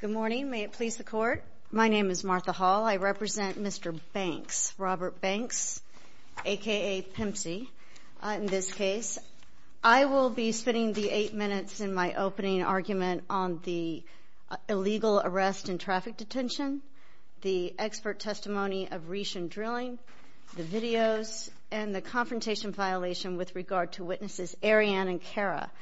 Good morning. May it please the Court, my name is Martha Hall. I represent Mr. Banks, Robert Banks, a.k.a. Pimpsy, in this case. I will be spending the eight minutes in my opening argument on the illegal arrest and traffic detention, the expert testimony of with regard to witnesses Arianne and Kara.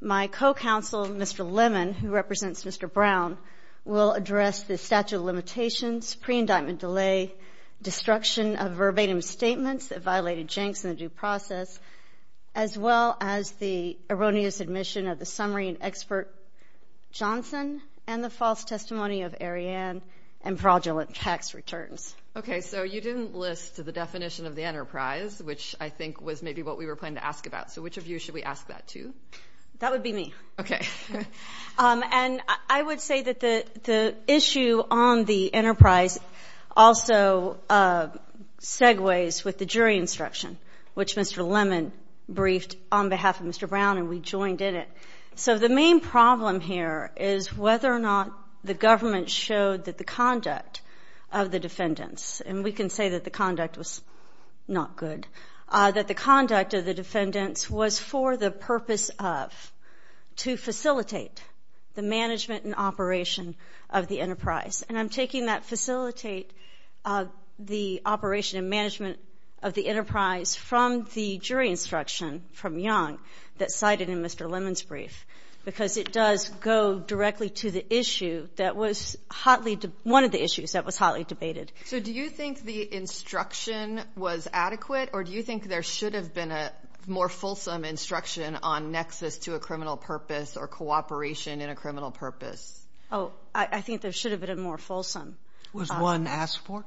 My co-counsel, Mr. Lemon, who represents Mr. Brown, will address the statute of limitations, pre-indictment delay, destruction of verbatim statements that violated Jenks in the due process, as well as the erroneous admission of the summary and expert Johnson and the false testimony of Arianne and fraudulent tax returns. Okay, so you didn't list the definition of the enterprise, which I think was maybe what we were planning to ask about. So which of you should we ask that to? That would be me. Okay. And I would say that the issue on the enterprise also segues with the jury instruction, which Mr. Lemon briefed on behalf of Mr. Brown and we joined in it. So the main problem here is whether or not the government showed that the conduct of the defendants, and we can say that the conduct was not good, that the conduct of the defendants was for the purpose of to facilitate the management and operation of the enterprise. And I'm taking that facilitate the operation and management of the enterprise from the jury instruction from Young that it does go directly to the issue that was hotly, one of the issues that was hotly debated. So do you think the instruction was adequate or do you think there should have been a more fulsome instruction on nexus to a criminal purpose or cooperation in a criminal purpose? Oh, I think there should have been a more fulsome. Was one asked for?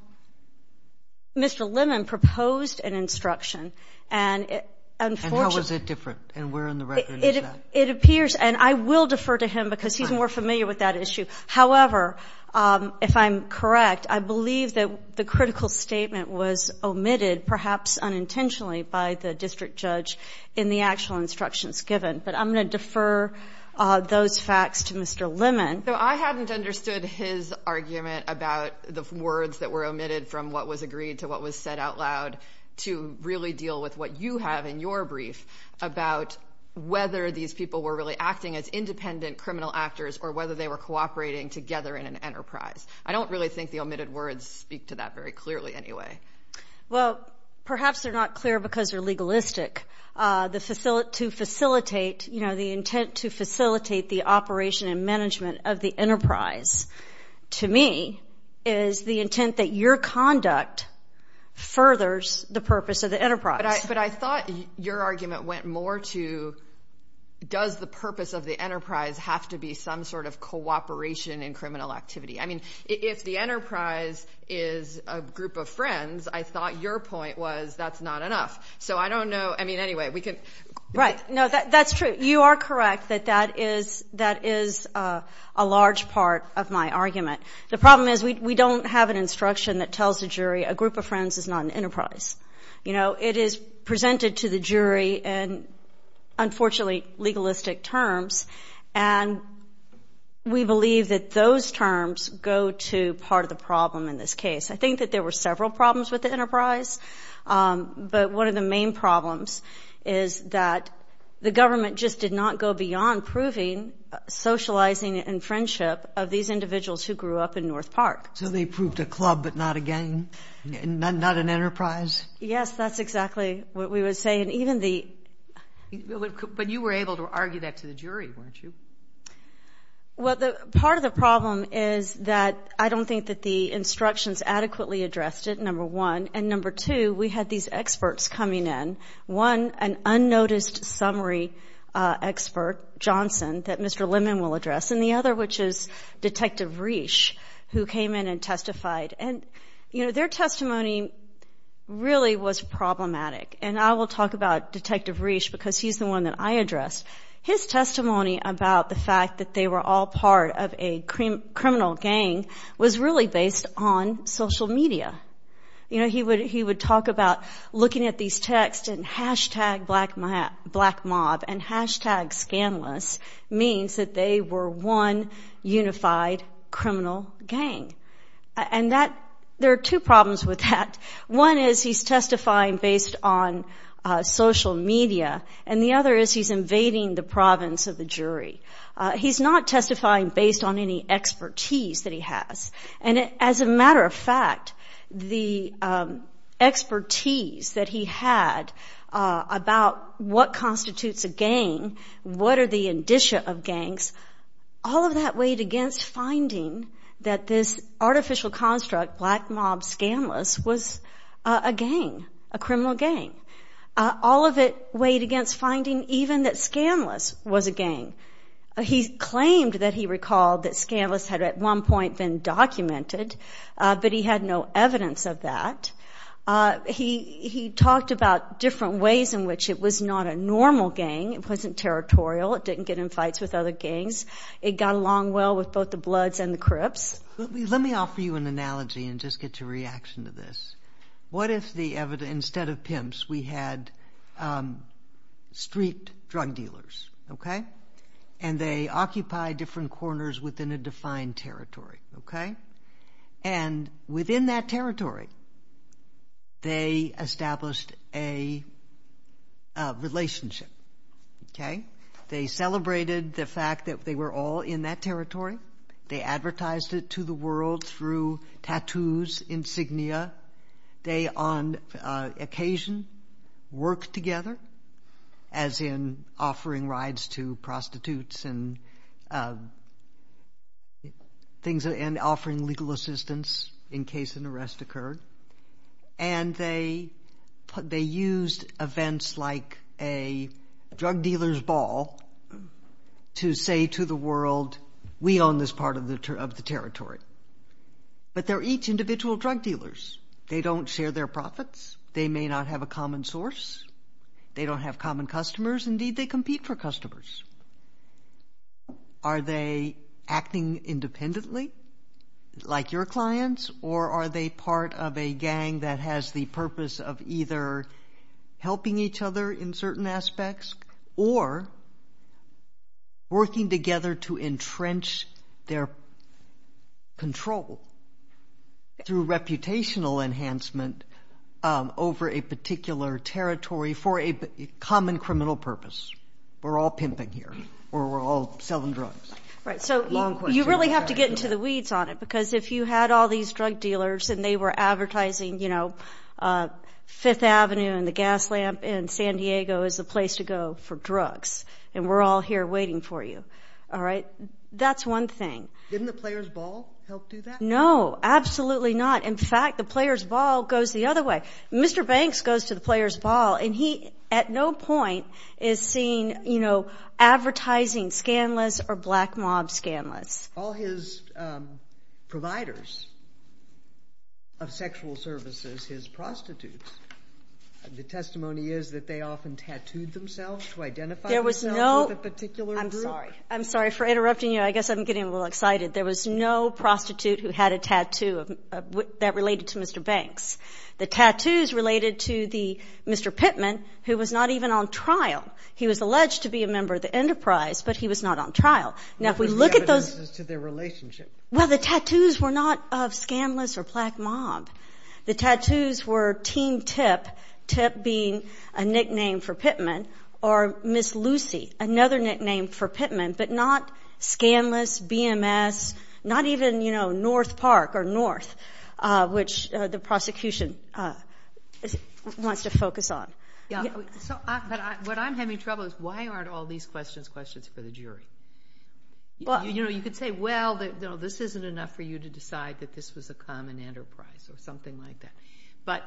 Mr. Lemon proposed an instruction and it, unfortunately. And how was it different? And where in the record is that? It appears and I will defer to him because he's more familiar with that issue. However, if I'm correct, I believe that the critical statement was omitted, perhaps unintentionally by the district judge in the actual instructions given. But I'm going to defer those facts to Mr. Lemon. So I hadn't understood his argument about the words that were omitted from what was agreed to what was said out loud to really deal with what you have in your brief about whether these people were really acting as independent criminal actors or whether they were cooperating together in an enterprise. I don't really think the omitted words speak to that very clearly anyway. Well, perhaps they're not clear because they're legalistic. The facility to facilitate, you know, the intent to facilitate the operation and management of the enterprise, to me, is the intent that your conduct furthers the purpose of the enterprise. But I thought your argument went more to does the purpose of the enterprise have to be some sort of cooperation in criminal activity? I mean, if the enterprise is a group of friends, I thought your point was that's not enough. So I don't know. I mean, anyway, we can... Right. No, that's true. You are correct that that is a large part of my argument. The problem is we don't have an instruction that tells a jury a group of friends is not an enterprise. You know, it is presented to the jury in, unfortunately, legalistic terms. And we believe that those terms go to part of the problem in this case. I think that there were several problems with the enterprise. But one of the main problems is that the government just did not go beyond proving socializing and friendship of these individuals who grew up in North Park. So they proved a club but not a gang? Not an enterprise? Yes, that's exactly what we would say. And even the... But you were able to argue that to the jury, weren't you? Well, part of the problem is that I don't think that the instructions adequately addressed it, number one. And number two, we had these experts coming in. One, an unnoticed summary expert, Johnson, that Mr. Lemon will address. And the other, which is Detective Reish, who came in and testified. And their testimony really was problematic. And I will talk about Detective Reish because he's the one that I addressed. His testimony about the fact that they were all part of a criminal gang was really based on social media. You know, he would talk about looking at these texts and hashtag black mob and hashtag scandalous means that they were one unified criminal gang. And there are two problems with that. One is he's testifying based on social media. And the other is he's invading the province of the jury. He's not testifying based on any expertise that he has. And as a matter of fact, the expertise that he had about what constitutes a gang, what are the indicia of gangs, all of that weighed against finding that this artificial construct, black mob, scandalous, was a gang, a criminal gang. All of it weighed against finding even that scandalous was a gang. He claimed that he recalled that scandalous had at one point been documented, but he had no evidence of that. He talked about different ways in which it was not a normal gang. It wasn't territorial. It didn't get in fights with other gangs. It got along well with both the Bloods and the Crips. Let me offer you an analogy and just get your reaction to this. What if instead of pimps we had street drug dealers? And they occupied different corners within a defined territory. And within that territory, they established a relationship. They celebrated the fact that they were all in that territory. They advertised it to the world through tattoos, insignia. They, on occasion, worked together, as in offering rides to prostitutes and offering legal assistance in case an arrest occurred. And they used events like a drug dealer's ball to say to the world, we own this part of the territory. But they're each individual drug dealers. They don't share their profits. They may not have a common source. They don't have common customers. Indeed, they compete for customers. Are they acting independently like your clients, or are they part of a gang that has the purpose of either helping each other in certain aspects, or working together to entrench their control through reputational enhancement over a particular territory for a common criminal purpose? We're all pimping here, or we're all selling drugs. Right, so you really have to get into the weeds on it, because if you had all these in San Diego as a place to go for drugs, and we're all here waiting for you. All right? That's one thing. Didn't the player's ball help do that? No, absolutely not. In fact, the player's ball goes the other way. Mr. Banks goes to the player's ball, and he, at no point, is seen advertising scandalous or black mob scandalous. All his providers of sexual services, his prostitutes, the testimony is that they often tattooed themselves to identify themselves with a particular group? I'm sorry for interrupting you. I guess I'm getting a little excited. There was no prostitute who had a tattoo that related to Mr. Banks. The tattoos related to the Mr. Pittman, who was not even on trial. He was alleged to be a member of the enterprise, but he was not on trial. What was the evidences to their relationship? Well, the tattoos were not of scandalous or black mob. The tattoos were Team Tip, Tip being a nickname for Pittman, or Miss Lucy, another nickname for Pittman, but not scandalous, BMS, not even, you know, North Park or North, which the prosecution wants to focus on. What I'm having trouble is, why aren't all these questions questions for the jury? You know, you could say, well, this isn't enough for you to decide that this was a common enterprise, or something like that, but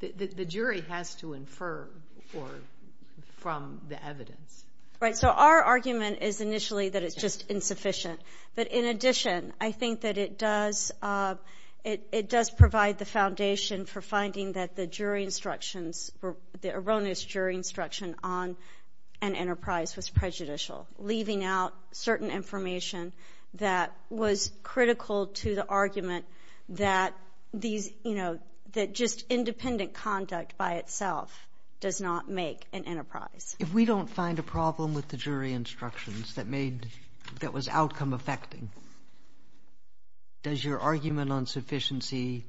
the jury has to infer from the evidence. Right, so our argument is initially that it's just insufficient, but in addition, I think that it does provide the foundation for finding that the jury instructions, the erroneous jury instruction on an enterprise was prejudicial, leaving out certain information that was critical to the argument that these, you know, that just independent conduct by itself does not make an enterprise. If we don't find a problem with the jury instructions that made, that was outcome affecting, does your argument on sufficiency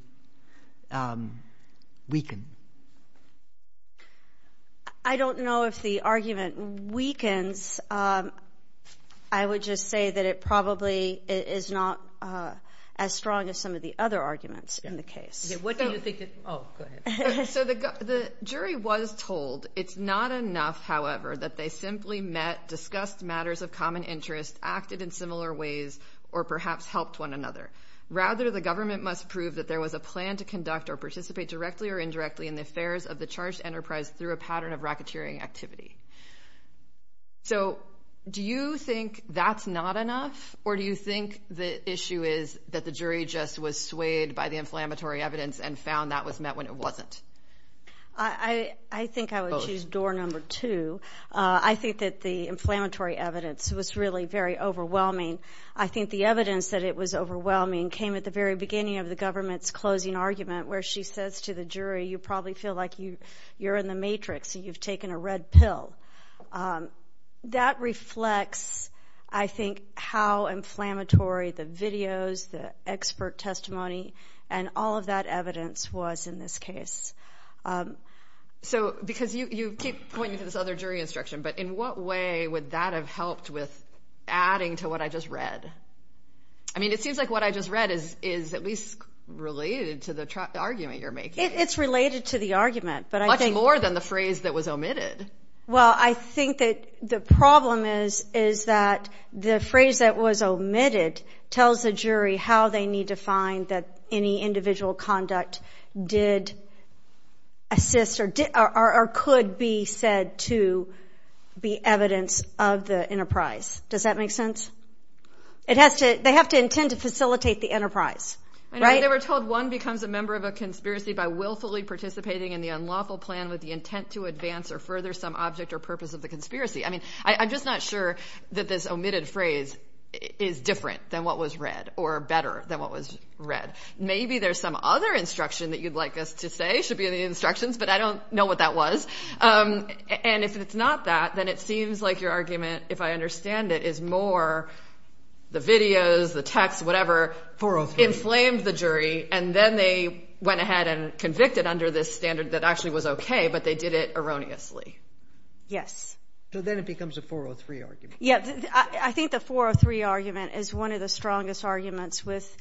weaken? I don't know if the argument weakens. I would just say that it probably is not as strong as some of the other arguments in the case. Oh, go ahead. So the jury was told it's not enough, however, that they simply met, discussed matters of common interest, acted in similar ways, or perhaps helped one another. Rather, the government must prove that there was a plan to conduct or participate directly or indirectly in the affairs of the charged enterprise through a pattern of racketeering activity. So do you think that's not enough, or do you think the issue is that the jury just was swayed by the inflammatory evidence and found that was met when it wasn't? I think I would choose door number two. I think that the inflammatory evidence was really very overwhelming. I think the evidence that it was overwhelming came at the very beginning of the government's closing argument, where she says to the jury, you probably feel like you're in the matrix and you've taken a red pill. That reflects, I think, how inflammatory the videos, the expert testimony, and all of that evidence was in this case. So, because you keep pointing to this other jury instruction, but in what way would that have helped with adding to what I just read? I mean, it seems like what I just read is at least related to the argument you're making. It's related to the argument, but I think... Much more than the phrase that was omitted. Well, I think that the problem is that the phrase that was omitted tells the jury how they need to find that any individual conduct did assist or could be said to be evidence of the enterprise. Does that make sense? They have to intend to facilitate the enterprise, right? They were told one becomes a member of a conspiracy by willfully participating in the unlawful plan with the intent to advance or further some object or purpose of the conspiracy. I mean, I'm just not sure that this omitted phrase is different than what was read or better than what was read. Maybe there's some other instruction that you'd like us to say should be in the instructions, but I don't know what that was. And if it's not that, then it seems like your argument, if I understand it, is more the videos, the text, whatever... 403. Inflamed the jury, and then they went ahead and convicted under this standard that actually was okay, but they did it erroneously. Yes. So then it becomes a 403 argument. I think the 403 argument is one of the strongest arguments with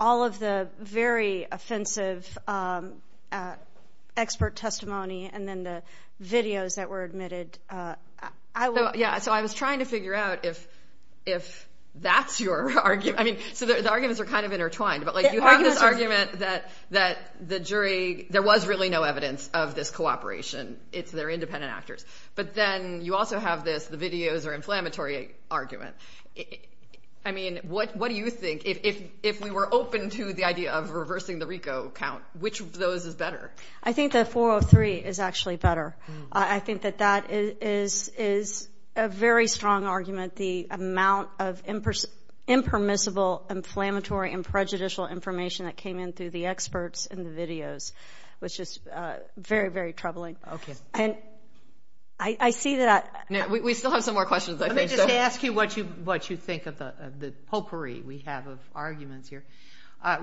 all of the very offensive expert testimony and then the videos that were omitted. So I was trying to figure out if that's your argument. I mean, so the arguments are kind of intertwined, but you have this argument that the jury, there was really no evidence of this cooperation. It's their independent actors. But then you also have this, the videos are inflammatory argument. I mean, what do you think, if we were open to the idea of reversing the RICO count, which of those is better? I think the 403 is actually better. I think that that is a very strong argument. The amount of impermissible, inflammatory, and prejudicial information that came in through the experts and the videos was just very, very troubling. Okay. And I see that... We still have some more questions, I think. Let me just ask you what you think of the potpourri we have of arguments here.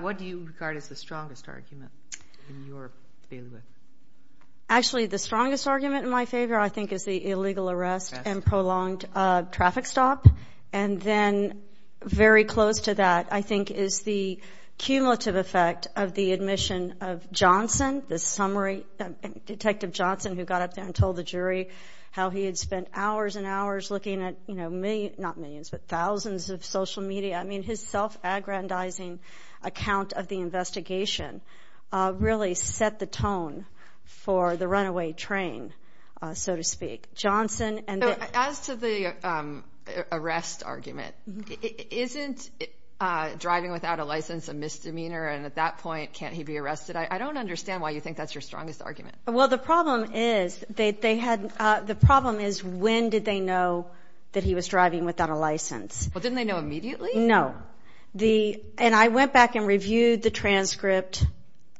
What do you regard as the strongest argument in your favor? Actually, the strongest argument in my favor, I think, is the illegal arrest and prolonged traffic stop. And then very close to that, I think, is the cumulative effect of the admission of Johnson, the summary, Detective Johnson, who got up there and told the jury how he had spent hours and hours looking at, you know, millions, not millions, but thousands of social media. I mean, his self-aggrandizing account of the investigation really set the tone for the runaway train, so to speak. Johnson and... As to the arrest argument, isn't driving without a license a misdemeanor? And at that point, can't he be arrested? I don't understand why you think that's your strongest argument. Well, the problem is they had... The problem is when did they know that he was driving without a license? Well, didn't they know immediately? No. And I went back and reviewed the transcript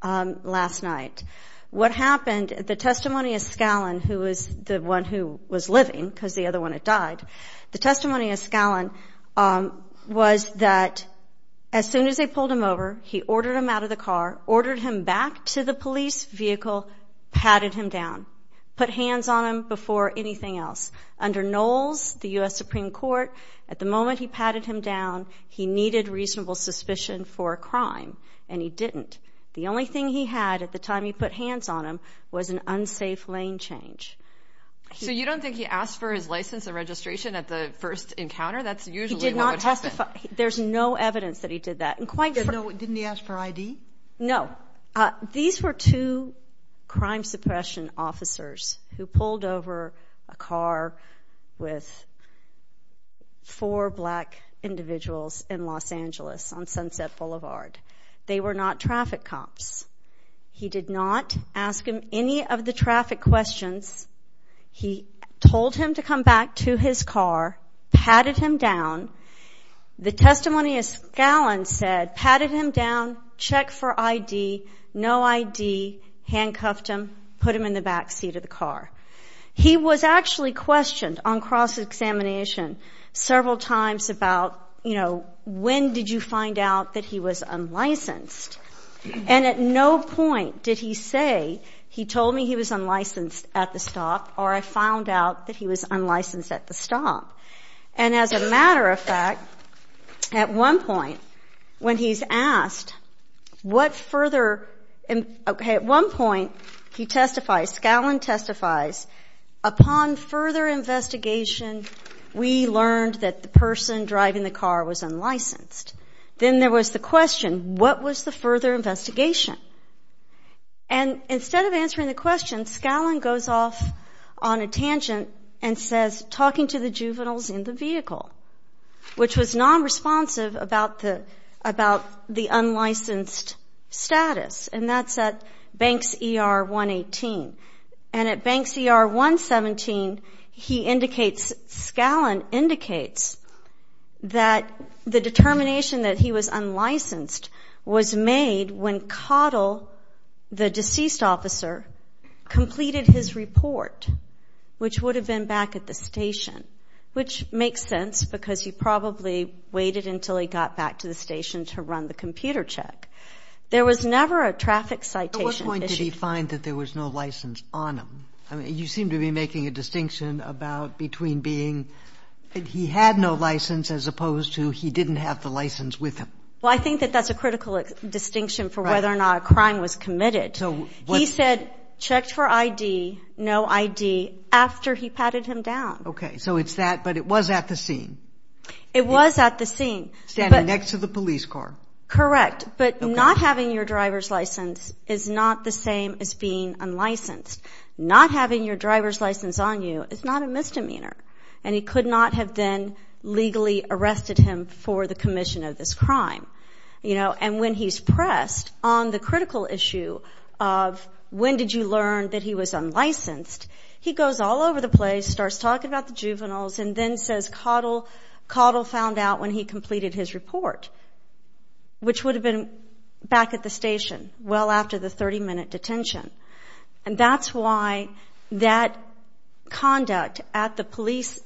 last night. What happened, the testimony of Scallon, who was the one who was living, because the other one had died, the testimony of Scallon was that as soon as they pulled him over, he ordered him out of the car, ordered him back to the police vehicle, patted him down, put hands on him before anything else. Under Knowles, the U.S. Supreme Court, at the moment he patted him down, he needed reasonable suspicion for a crime, and he didn't. The only thing he had at the time he put hands on him was an unsafe lane change. So you don't think he asked for his license and registration at the first encounter? That's usually what would happen. He did not testify. There's no evidence that he did that. And quite... Didn't he ask for ID? No. These were two crime suppression officers who pulled over a car with four black individuals in Los Angeles on Sunset Boulevard. They were not traffic cops. He did not ask him any of the traffic questions. He told him to come back to his car, patted him down. The testimony of Scallon said, patted him down, checked for ID, no ID, handcuffed him, put him in the back seat of the car. He was actually questioned on cross-examination several times about, you know, when did you find out that he was unlicensed? And at no point did he say, he told me he was unlicensed at the stop, or I found out that he was unlicensed at the stop. And as a matter of fact, at one point, when he's asked what further... At one point, he testifies, Scallon testifies, upon further investigation, we learned that the person driving the car was unlicensed. Then there was the question, what was the Scallon goes off on a tangent and says, talking to the juveniles in the vehicle, which was non-responsive about the unlicensed status. And that's at Banks ER 118. And at Banks ER 117, he indicates, Scallon indicates, that the determination that he was unlicensed was made when Cottle, the deceased officer, completed his report, which would have been back at the station, which makes sense because he probably waited until he got back to the station to run the computer check. There was never a traffic citation issued. At what point did he find that there was no license on him? I mean, you seem to be making a distinction about between being... He had no license as opposed to he didn't have the license with him. Well, I think that that's a critical distinction for whether or not a crime was committed. He said, checked for ID, no ID, after he patted him down. Okay. So it's that, but it was at the scene. It was at the scene. Standing next to the police car. Correct. But not having your driver's license is not the same as being unlicensed. Not having your driver's license on you is not a misdemeanor. And he could not have then legally arrested him for the commission of this crime. And when he's pressed on the critical issue of when did you learn that he was unlicensed, he goes all over the place, starts talking about the juveniles, and then says Cottle found out when he completed his report, which would have been back at the station well after the 30-minute detention. And that's why that conduct at the police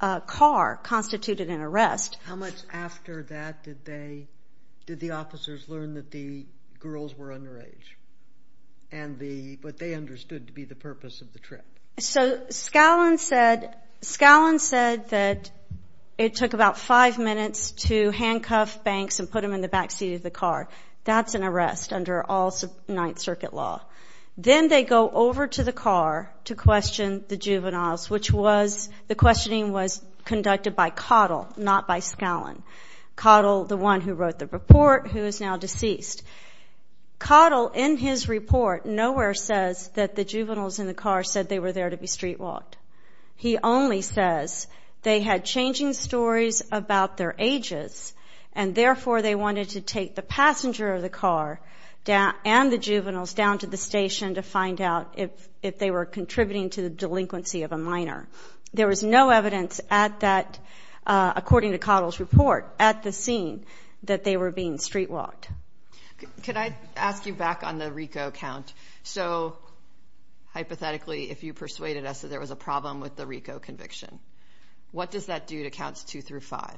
car constituted an arrest. How much after that did the officers learn that the girls were underage, but they understood to be the purpose of the trip? So Scallon said that it took about five minutes to handcuff Banks and put him in the back seat of the car. That's an arrest under all Ninth Circuit law. Then they go over to the car to question the juveniles, which was the questioning was conducted by Cottle, not by Scallon. Cottle, the one who wrote the report, who is now deceased. Cottle, in his report, nowhere says that the juveniles in the car said they were there to be street walked. He only says they had changing stories about their ages, and therefore they wanted to take the passenger of the car and the juveniles down to the station to find out if they were contributing to the delinquency of a minor. There was no evidence at that, according to Cottle's report, at the scene that they were being street walked. Could I ask you back on the RICO count? So hypothetically, if you persuaded us that there was a problem with the RICO conviction, what does that do to counts two through five?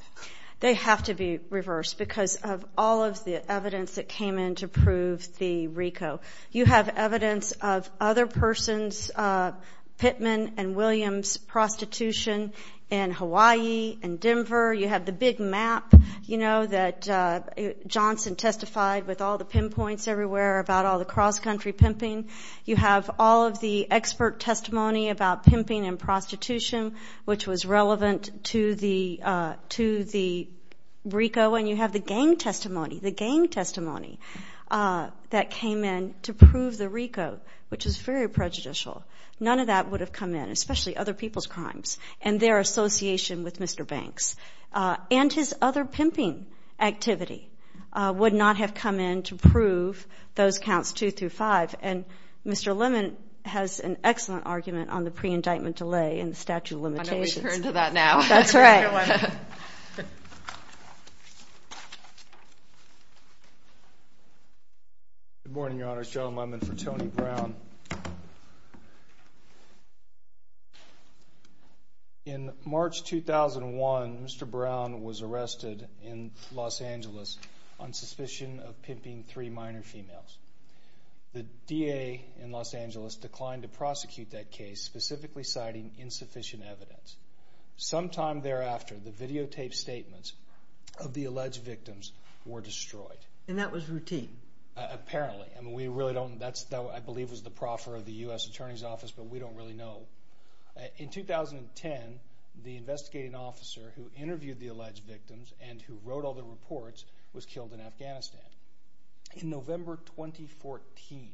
They have to be reversed because of all of the evidence that came in to prove the RICO. You have evidence of other persons' Pittman and Williams prostitution in Hawaii and Denver. You have the big map, you know, that Johnson testified with all the pinpoints everywhere about all the cross-country pimping. You have all of the expert testimony about pimping and prostitution, which was relevant to the RICO, and you have the gang testimony, the gang testimony that came in to prove the RICO, which is very prejudicial. None of that would have come in, especially other people's crimes and their association with Mr. Banks. And his other pimping activity would not have come in to prove those counts two through five. And Mr. Lemon has an excellent argument on the pre-indictment delay and statute of limitations. I know we should turn to that now. That's right. Good morning, Your Honors. John Lemon for Tony Brown. In March 2001, Mr. Brown was arrested in Los Angeles on suspicion of pimping three minor females. The DA in Los Angeles declined to prosecute that case, specifically citing insufficient evidence. Sometime thereafter, the videotaped statements of the alleged victims were destroyed. And that was routine? Apparently. I mean, we really don't know. That, I believe, was the proffer of the U.S. Attorney's Office, but we don't really know. In 2010, the investigating officer who interviewed the alleged victims and who wrote all the reports was killed in Afghanistan. In November 2014,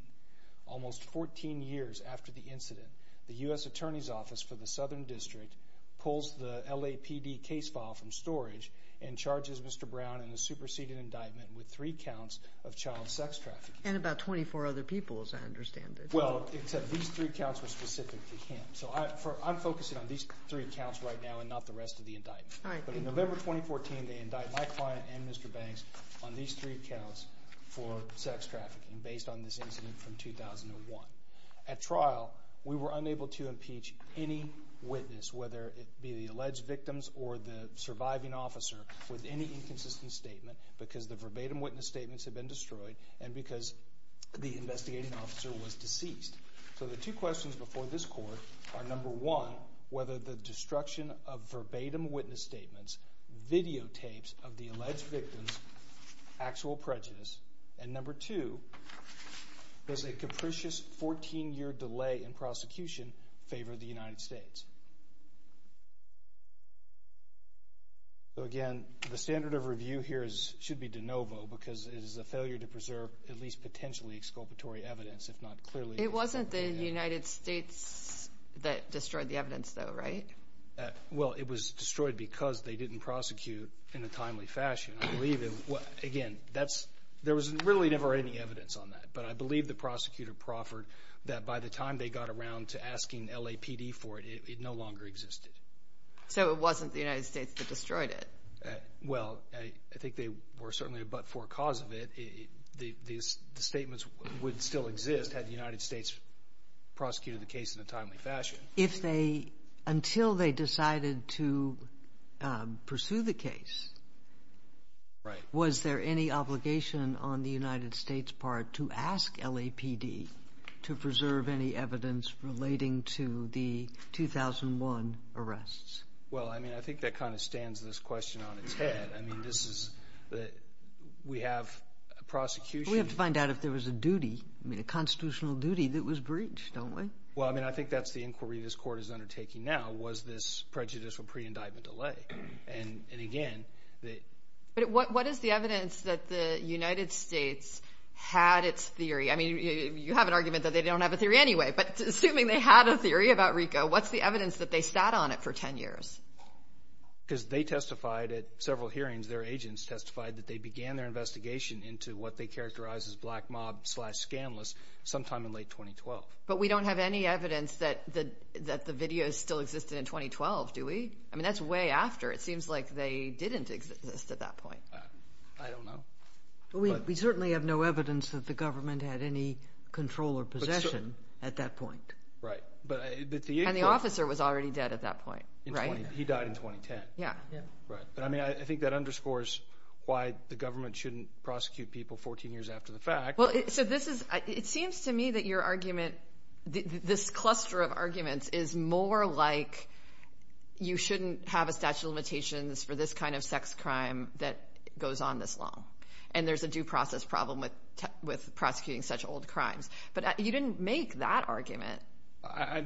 almost 14 years after the incident, the U.S. Attorney's Office for the Southern District pulls the LAPD case file from storage and charges Mr. Brown in the superseded indictment with three counts of child sex trafficking. And about 24 other people, as I understand it. Well, except these three counts were specific to him. So I'm focusing on these three counts right now and not the rest of the indictment. But in November 2014, they indict my client and Mr. Banks on these three counts for sex trafficking based on this incident from 2001. At trial, we were unable to impeach any witness, whether it be the alleged victims or the surviving officer, with any inconsistent statement because the verbatim witness statements had been destroyed and because the investigating officer was deceased. So the two questions before this court are, number one, whether the destruction of verbatim witness statements videotapes of the alleged victims' actual prejudice, and number two, does a capricious 14-year delay in prosecution favor the United States? So again, the standard of review here should be de novo because it is a failure to preserve at least potentially exculpatory evidence, if not clearly. It wasn't the United States that destroyed the evidence, though, right? Well, it was destroyed because they didn't prosecute in a timely fashion. I believe, again, there was really never any evidence on that. But I believe the prosecutor proffered that by the time they got around to asking LAPD for it, it no longer existed. So it wasn't the United States that destroyed it? Well, I think they were certainly a but-for cause of it. The statements would still exist had the United States prosecuted the case in a timely fashion. Until they decided to pursue the case, was there any obligation on the United States' part to ask LAPD to preserve any evidence relating to the 2001 arrests? Well, I mean, I think that kind of stands this question on its head. I mean, this is that we have a prosecution. We have to find out if there was a duty, I mean, a constitutional duty that was breached, don't we? Well, I mean, I think that's the inquiry this Court is undertaking now, was this prejudicial pre-indictment delay. And again, the – But what is the evidence that the United States had its theory? I mean, you have an argument that they don't have a theory anyway, but assuming they had a theory about RICO, what's the evidence that they sat on it for 10 years? Because they testified at several hearings. Their agents testified that they began their investigation into what they characterized as black mob slash scandalous sometime in late 2012. But we don't have any evidence that the videos still existed in 2012, do we? I mean, that's way after. It seems like they didn't exist at that point. I don't know. We certainly have no evidence that the government had any control or possession at that point. Right. And the officer was already dead at that point, right? He died in 2010. Yeah. Right. But, I mean, I think that underscores why the government shouldn't prosecute people 14 years after the fact. Well, so this is – it seems to me that your argument, this cluster of arguments, is more like you shouldn't have a statute of limitations for this kind of sex crime that goes on this long, and there's a due process problem with prosecuting such old crimes. But you didn't make that argument.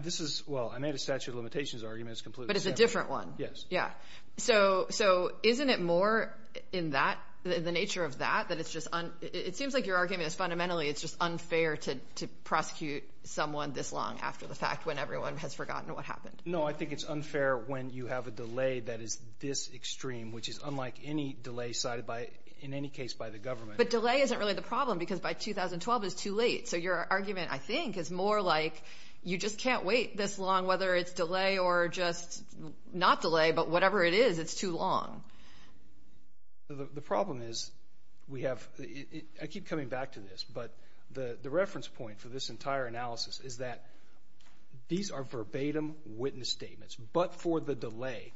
This is – well, I made a statute of limitations argument. But it's a different one. Yes. Yeah. So isn't it more in that, in the nature of that, that it's just – it seems like your argument is fundamentally it's just unfair to prosecute someone this long after the fact when everyone has forgotten what happened. No, I think it's unfair when you have a delay that is this extreme, which is unlike any delay cited in any case by the government. But delay isn't really the problem because by 2012 it's too late. So your argument, I think, is more like you just can't wait this long, whether it's delay or just not delay, but whatever it is, it's too long. The problem is we have – I keep coming back to this, but the reference point for this entire analysis is that these are verbatim witness statements. But for the delay,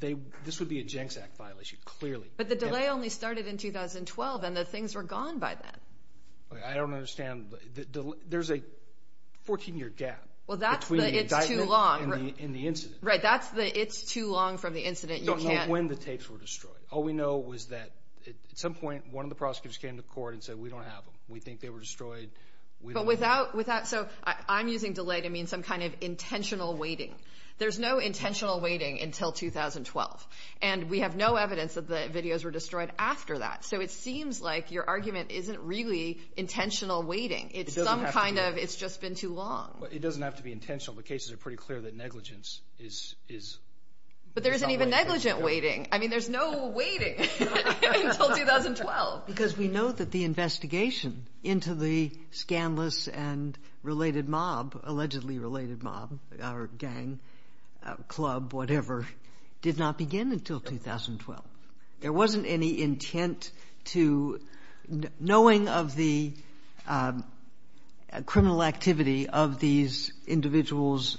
this would be a Jenks Act violation, clearly. But the delay only started in 2012, and the things were gone by then. I don't understand. There's a 14-year gap between the indictment. That's the it's too long. In the incident. Right, that's the it's too long from the incident. You don't know when the tapes were destroyed. All we know was that at some point one of the prosecutors came to court and said we don't have them. We think they were destroyed. But without – so I'm using delay to mean some kind of intentional waiting. There's no intentional waiting until 2012, and we have no evidence that the videos were destroyed after that. So it seems like your argument isn't really intentional waiting. It's some kind of it's just been too long. It doesn't have to be intentional. The cases are pretty clear that negligence is a violation. But there isn't even negligent waiting. I mean, there's no waiting until 2012. Because we know that the investigation into the scandalous and related mob, allegedly related mob, or gang, club, whatever, did not begin until 2012. There wasn't any intent to – knowing of the criminal activity of these individuals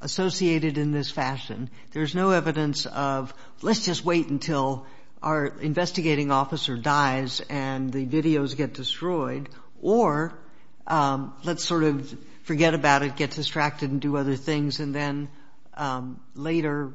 associated in this fashion, there's no evidence of let's just wait until our investigating officer dies and the videos get destroyed, or let's sort of forget about it, get distracted and do other things, and then later,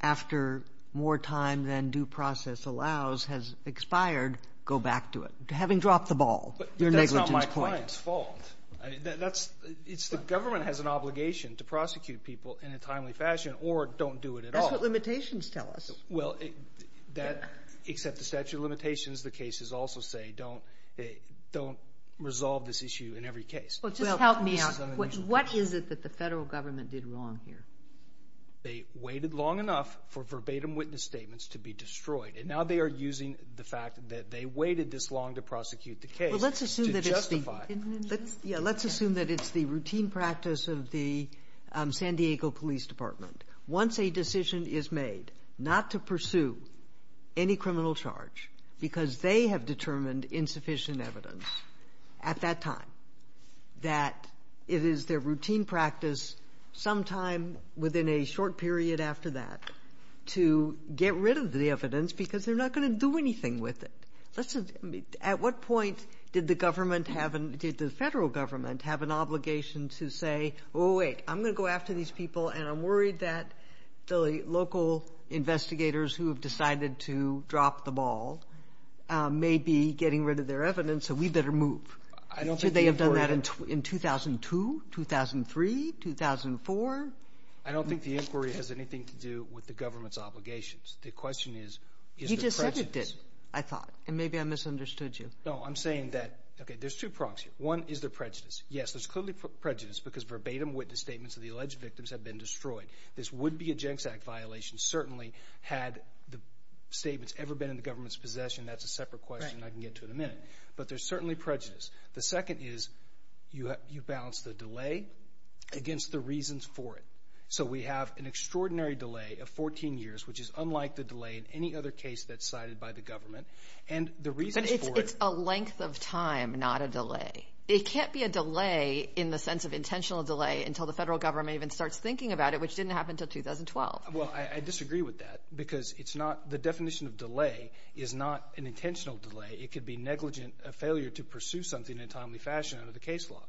after more time than due process allows has expired, go back to it. Having dropped the ball, your negligence point. But that's not my client's fault. It's the government has an obligation to prosecute people in a timely fashion or don't do it at all. That's what limitations tell us. Well, except the statute of limitations, the cases also say don't resolve this issue in every case. Well, just help me out. What is it that the federal government did wrong here? They waited long enough for verbatim witness statements to be destroyed, and now they are using the fact that they waited this long to prosecute the case to justify it. Yeah, let's assume that it's the routine practice of the San Diego Police Department. Once a decision is made not to pursue any criminal charge because they have determined insufficient evidence at that time, that it is their routine practice sometime within a short period after that to get rid of the evidence because they're not going to do anything with it. At what point did the federal government have an obligation to say, oh, wait, I'm going to go after these people, and I'm worried that the local investigators who have decided to drop the ball may be getting rid of their evidence, so we better move? Should they have done that in 2002, 2003, 2004? I don't think the inquiry has anything to do with the government's obligations. The question is, is there prejudice? You just said it didn't, I thought, and maybe I misunderstood you. No, I'm saying that, okay, there's two prongs here. One, is there prejudice? Yes, there's clearly prejudice because verbatim witness statements of the alleged victims have been destroyed. This would be a Jenks Act violation certainly had the statements ever been in the government's possession. That's a separate question I can get to in a minute. But there's certainly prejudice. The second is you balance the delay against the reasons for it. So we have an extraordinary delay of 14 years, which is unlike the delay in any other case that's cited by the government. But it's a length of time, not a delay. It can't be a delay in the sense of intentional delay until the federal government even starts thinking about it, which didn't happen until 2012. Well, I disagree with that because the definition of delay is not an intentional delay. It could be negligent, a failure to pursue something in a timely fashion under the case law.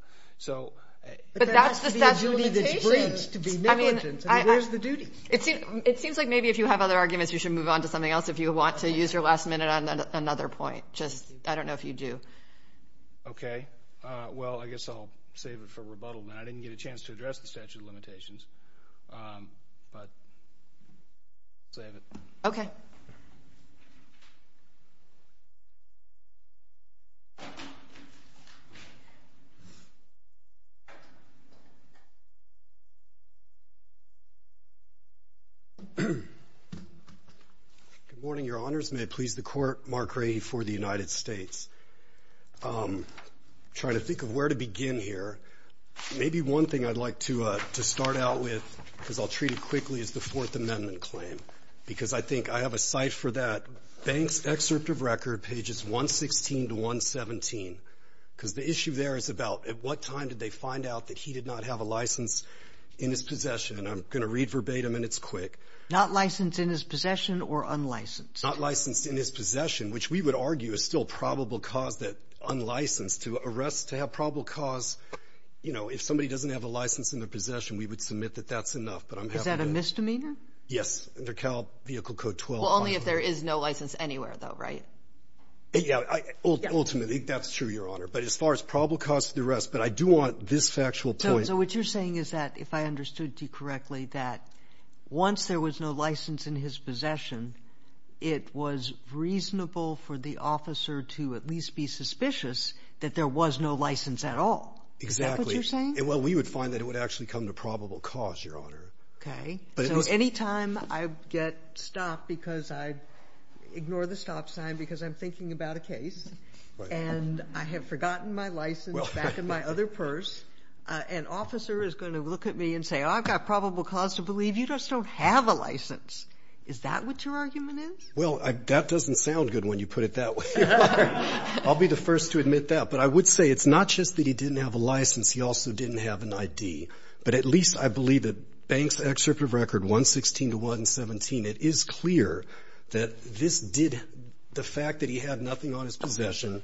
But that has to be a duty that's breached to be negligent, and there's the duty. It seems like maybe if you have other arguments you should move on to something else. If you want to use your last minute on another point, I don't know if you do. Okay. Well, I guess I'll save it for rebuttal. I didn't get a chance to address the statute of limitations. But save it. Okay. Good morning, Your Honors. May it please the Court, Mark Ray for the United States. Trying to think of where to begin here. Maybe one thing I'd like to start out with, because I'll treat it quickly, is the Fourth Amendment claim. Because I think I have a cite for that. Banks' excerpt of record, pages 116 to 117. Because the issue there is about at what time did they find out that he did not have a license in his possession. I'm going to read verbatim, and it's quick. Not licensed in his possession or unlicensed? Not licensed in his possession, which we would argue is still probable cause that unlicensed. To arrest to have probable cause, you know, if somebody doesn't have a license in their possession, we would submit that that's enough. Is that a misdemeanor? Yes, under Cal Vehicle Code 12. Well, only if there is no license anywhere, though, right? Ultimately, that's true, Your Honor. But as far as probable cause for the arrest, but I do want this factual point. So what you're saying is that, if I understood you correctly, that once there was no license in his possession, it was reasonable for the officer to at least be suspicious that there was no license at all. Exactly. Is that what you're saying? Well, we would find that it would actually come to probable cause, Your Honor. Okay. So anytime I get stopped because I ignore the stop sign because I'm thinking about a case, and I have forgotten my license back in my other purse, an officer is going to look at me and say, You know, I've got probable cause to believe you just don't have a license. Is that what your argument is? Well, that doesn't sound good when you put it that way. I'll be the first to admit that. But I would say it's not just that he didn't have a license. He also didn't have an ID. But at least I believe that Banks' excerpt of Record 116 to 117, it is clear that this did the fact that he had nothing on his possession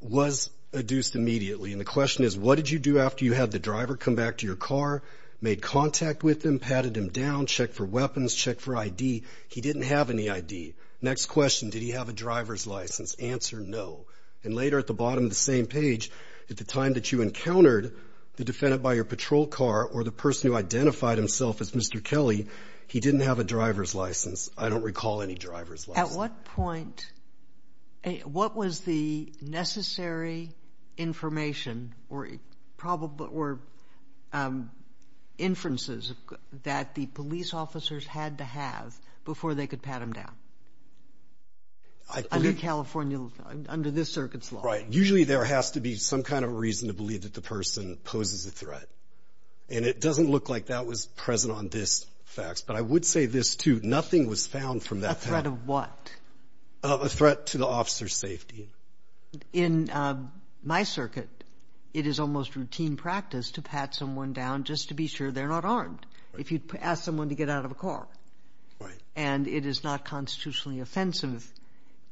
was adduced immediately. And the question is, what did you do after you had the driver come back to your car, made contact with him, patted him down, check for weapons, check for ID? He didn't have any ID. Next question, did he have a driver's license? Answer, no. And later at the bottom of the same page, at the time that you encountered the defendant by your patrol car or the person who identified himself as Mr. Kelly, I don't recall any driver's license. At what point, what was the necessary information or inferences that the police officers had to have before they could pat him down under this circuit's law? Right. Usually there has to be some kind of reason to believe that the person poses a threat. And it doesn't look like that was present on this fax. But I would say this, too. A threat of what? A threat to the officer's safety. In my circuit, it is almost routine practice to pat someone down just to be sure they're not armed. If you ask someone to get out of a car. And it is not constitutionally offensive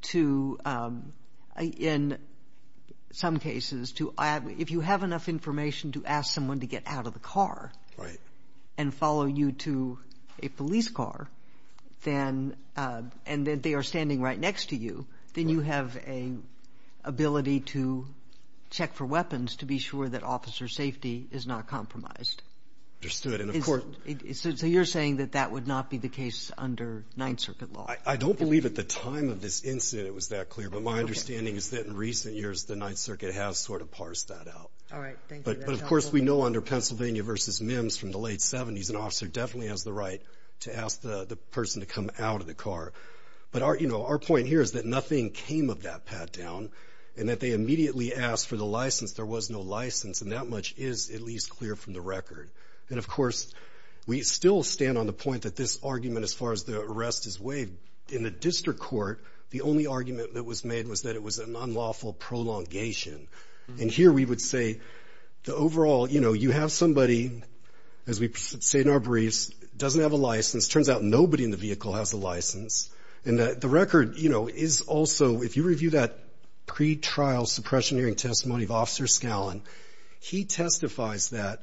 to, in some cases, if you have enough information to ask someone to get out of the car and follow you to a police car, and they are standing right next to you, then you have an ability to check for weapons to be sure that officer safety is not compromised. Understood. So you're saying that that would not be the case under Ninth Circuit law? I don't believe at the time of this incident it was that clear. But my understanding is that in recent years, the Ninth Circuit has sort of parsed that out. All right. Thank you. But, of course, we know under Pennsylvania v. Mims from the late 70s, an officer definitely has the right to ask the person to come out of the car. But, you know, our point here is that nothing came of that pat down and that they immediately asked for the license. There was no license, and that much is at least clear from the record. And, of course, we still stand on the point that this argument, as far as the arrest is weighed, in the district court, the only argument that was made was that it was an unlawful prolongation. And here we would say the overall, you know, you have somebody, as we say in our briefs, doesn't have a license. Turns out nobody in the vehicle has a license. And the record, you know, is also, if you review that pretrial suppression hearing testimony of Officer Scallon, he testifies that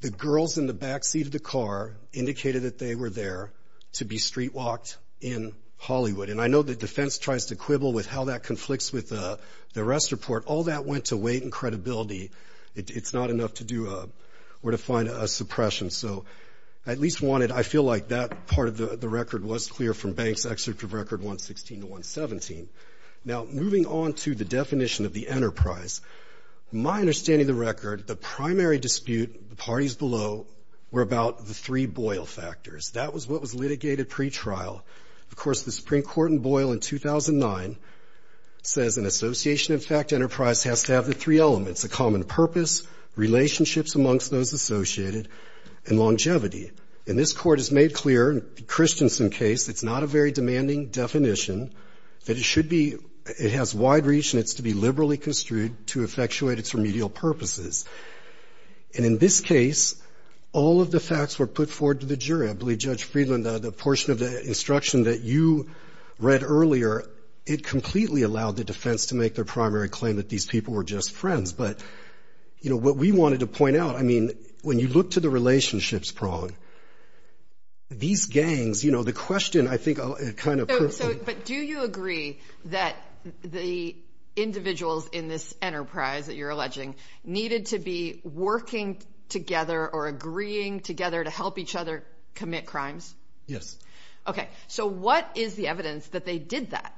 the girls in the back seat of the car indicated that they were there to be street walked in Hollywood. And I know the defense tries to quibble with how that conflicts with the arrest report. All that went to weight and credibility. It's not enough to do or to find a suppression. So I at least wanted, I feel like that part of the record was clear from Banks' excerpt of record 116 to 117. Now, moving on to the definition of the enterprise, my understanding of the record, the primary dispute, the parties below, were about the three Boyle factors. That was what was litigated pretrial. Of course, the Supreme Court in Boyle in 2009 says, in association, in fact, enterprise has to have the three elements, a common purpose, relationships amongst those associated, and longevity. And this Court has made clear, in Christensen's case, it's not a very demanding definition, that it should be, it has wide reach and it's to be liberally construed to effectuate its remedial purposes. And in this case, all of the facts were put forward to the jury. I believe Judge Friedland, the portion of the instruction that you read earlier, it completely allowed the defense to make their primary claim that these people were just friends. But, you know, what we wanted to point out, I mean, when you look to the relationships prong, these gangs, you know, the question, I think, kind of... So, but do you agree that the individuals in this enterprise, that you're alleging, needed to be working together or agreeing together to help each other commit crimes? Yes. Okay. So what is the evidence that they did that?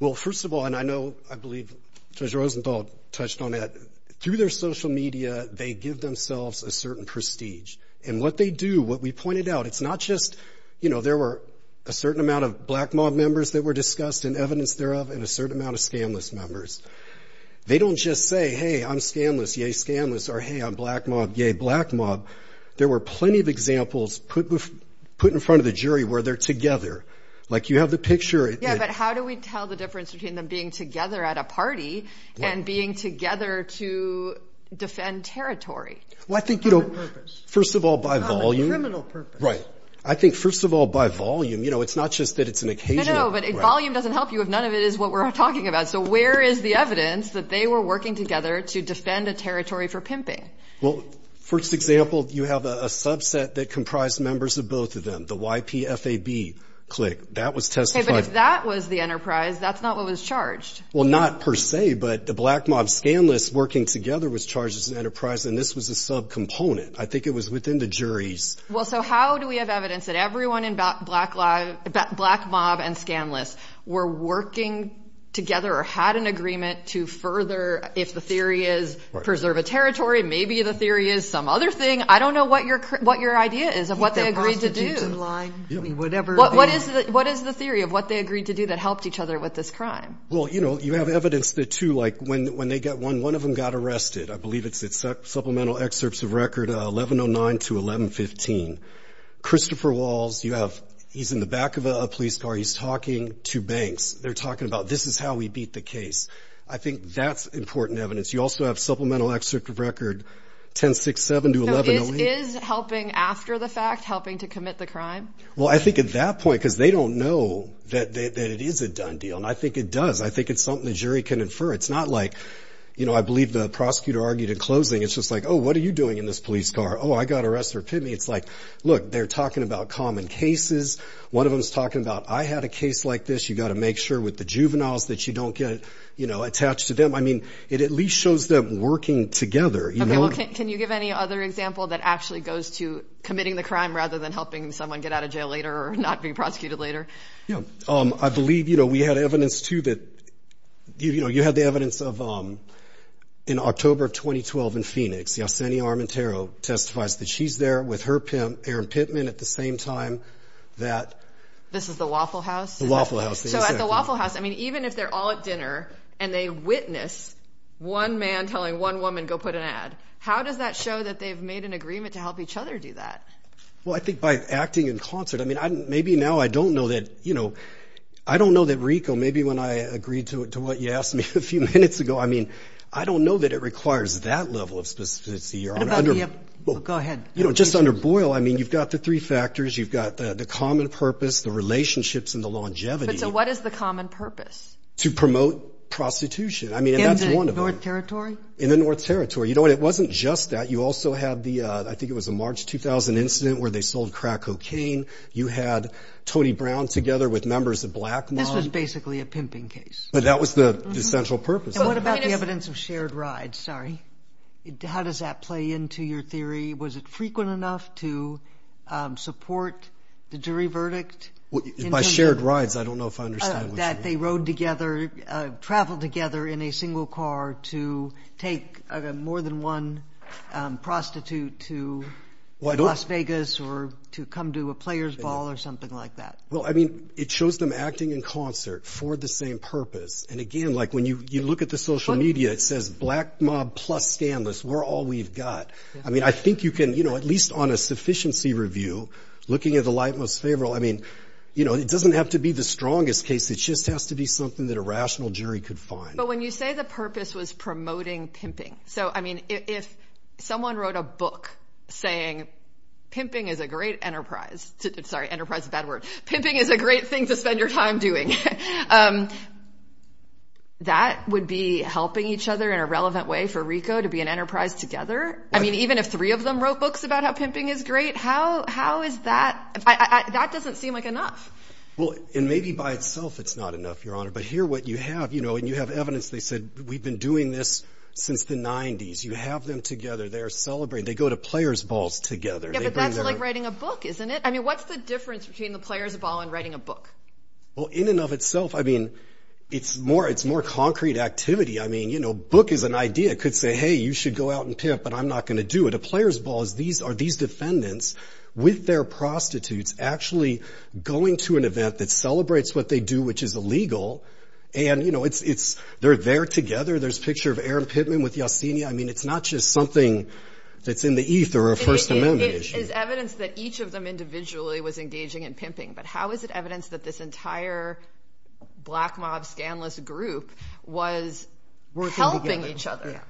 Well, first of all, and I know, I believe Judge Rosenthal touched on that, through their social media, they give themselves a certain prestige. And what they do, what we pointed out, it's not just, you know, there were a certain amount of black mob members that were discussed and evidence thereof and a certain amount of scamless members. They don't just say, hey, I'm scamless, yay, scamless, or hey, I'm black mob, yay, black mob. There were plenty of examples put in front of the jury where they're together. Like, you have the picture. Yeah, but how do we tell the difference between them being together at a party and being together to defend territory? Well, I think, you know, first of all, by volume. Not by criminal purpose. Right. I think, first of all, by volume. You know, it's not just that it's an occasional... No, no, but volume doesn't help you if none of it is what we're talking about. So where is the evidence that they were working together to defend a territory for pimping? Well, first example, you have a subset that comprised members of both of them, the YPFAB clique. That was testified... Okay, but if that was the enterprise, that's not what was charged. Well, not per se, but the black mob scamless working together was charged as an enterprise, and this was a subcomponent. I think it was within the jury's... Well, so how do we have evidence that everyone in black mob and scamless were working together or had an agreement to further, if the theory is, preserve a territory, maybe the theory is some other thing. I don't know what your idea is of what they agreed to do. What is the theory of what they agreed to do that helped each other with this crime? Well, you know, you have evidence that, too, like when one of them got arrested. I believe it's supplemental excerpts of record 1109 to 1115. Christopher Walls, he's in the back of a police car. He's talking to banks. They're talking about, this is how we beat the case. I think that's important evidence. You also have supplemental excerpt of record 1067 to 1108. So is helping after the fact helping to commit the crime? Well, I think at that point, because they don't know that it is a done deal, and I think it does. I think it's something the jury can infer. It's not like, you know, I believe the prosecutor argued in closing. It's just like, oh, what are you doing in this police car? Oh, I got arrested for a pit meet. It's like, look, they're talking about common cases. One of them is talking about I had a case like this. You've got to make sure with the juveniles that you don't get attached to them. I mean, it at least shows them working together. Okay, well, can you give any other example that actually goes to committing the crime rather than helping someone get out of jail later or not be prosecuted later? Yeah. I believe, you know, we had evidence, too, that, you know, you had the evidence of in October of 2012 in Phoenix. Yesenia Armentero testifies that she's there with her pimp, Aaron Pittman, at the same time that. This is the Waffle House? The Waffle House, exactly. So at the Waffle House, I mean, even if they're all at dinner and they witness one man telling one woman go put an ad, how does that show that they've made an agreement to help each other do that? Well, I think by acting in concert. I mean, maybe now I don't know that, you know, I don't know that RICO, maybe when I agreed to what you asked me a few minutes ago, I mean, I don't know that it requires that level of specificity. Go ahead. You know, just under Boyle, I mean, you've got the three factors. You've got the common purpose, the relationships, and the longevity. But so what is the common purpose? To promote prostitution. I mean, and that's one of them. In the North Territory? In the North Territory. You know what, it wasn't just that. You also had the, I think it was a March 2000 incident where they sold crack cocaine. You had Tony Brown together with members of Blackmon. This was basically a pimping case. But that was the central purpose. And what about the evidence of shared rides? Sorry. How does that play into your theory? Was it frequent enough to support the jury verdict? By shared rides, I don't know if I understand what you mean. That they rode together, traveled together in a single car to take more than one prostitute to Las Vegas or to come to a players ball or something like that. Well, I mean, it shows them acting in concert for the same purpose. And, again, like when you look at the social media, it says Black Mob plus scandalous. We're all we've got. I mean, I think you can, at least on a sufficiency review, looking at the light most favorable. I mean, it doesn't have to be the strongest case. It just has to be something that a rational jury could find. But when you say the purpose was promoting pimping. So, I mean, if someone wrote a book saying pimping is a great enterprise. Sorry, enterprise is a bad word. Pimping is a great thing to spend your time doing. That would be helping each other in a relevant way for RICO to be an enterprise together? I mean, even if three of them wrote books about how pimping is great, how is that? That doesn't seem like enough. Well, and maybe by itself it's not enough, Your Honor. But here what you have, you know, and you have evidence. They said we've been doing this since the 90s. You have them together. They're celebrating. They go to players balls together. Yeah, but that's like writing a book, isn't it? I mean, what's the difference between the players ball and writing a book? Well, in and of itself, I mean, it's more concrete activity. I mean, you know, book is an idea. It could say, hey, you should go out and pimp, but I'm not going to do it. A players ball is these defendants with their prostitutes actually going to an event that celebrates what they do, which is illegal, and, you know, they're there together. There's a picture of Aaron Pittman with Yossini. I mean, it's not just something that's in the ether or a First Amendment issue. It's evidence that each of them individually was engaging in pimping, but how is it evidence that this entire Black Mob, Scandalous group was helping each other?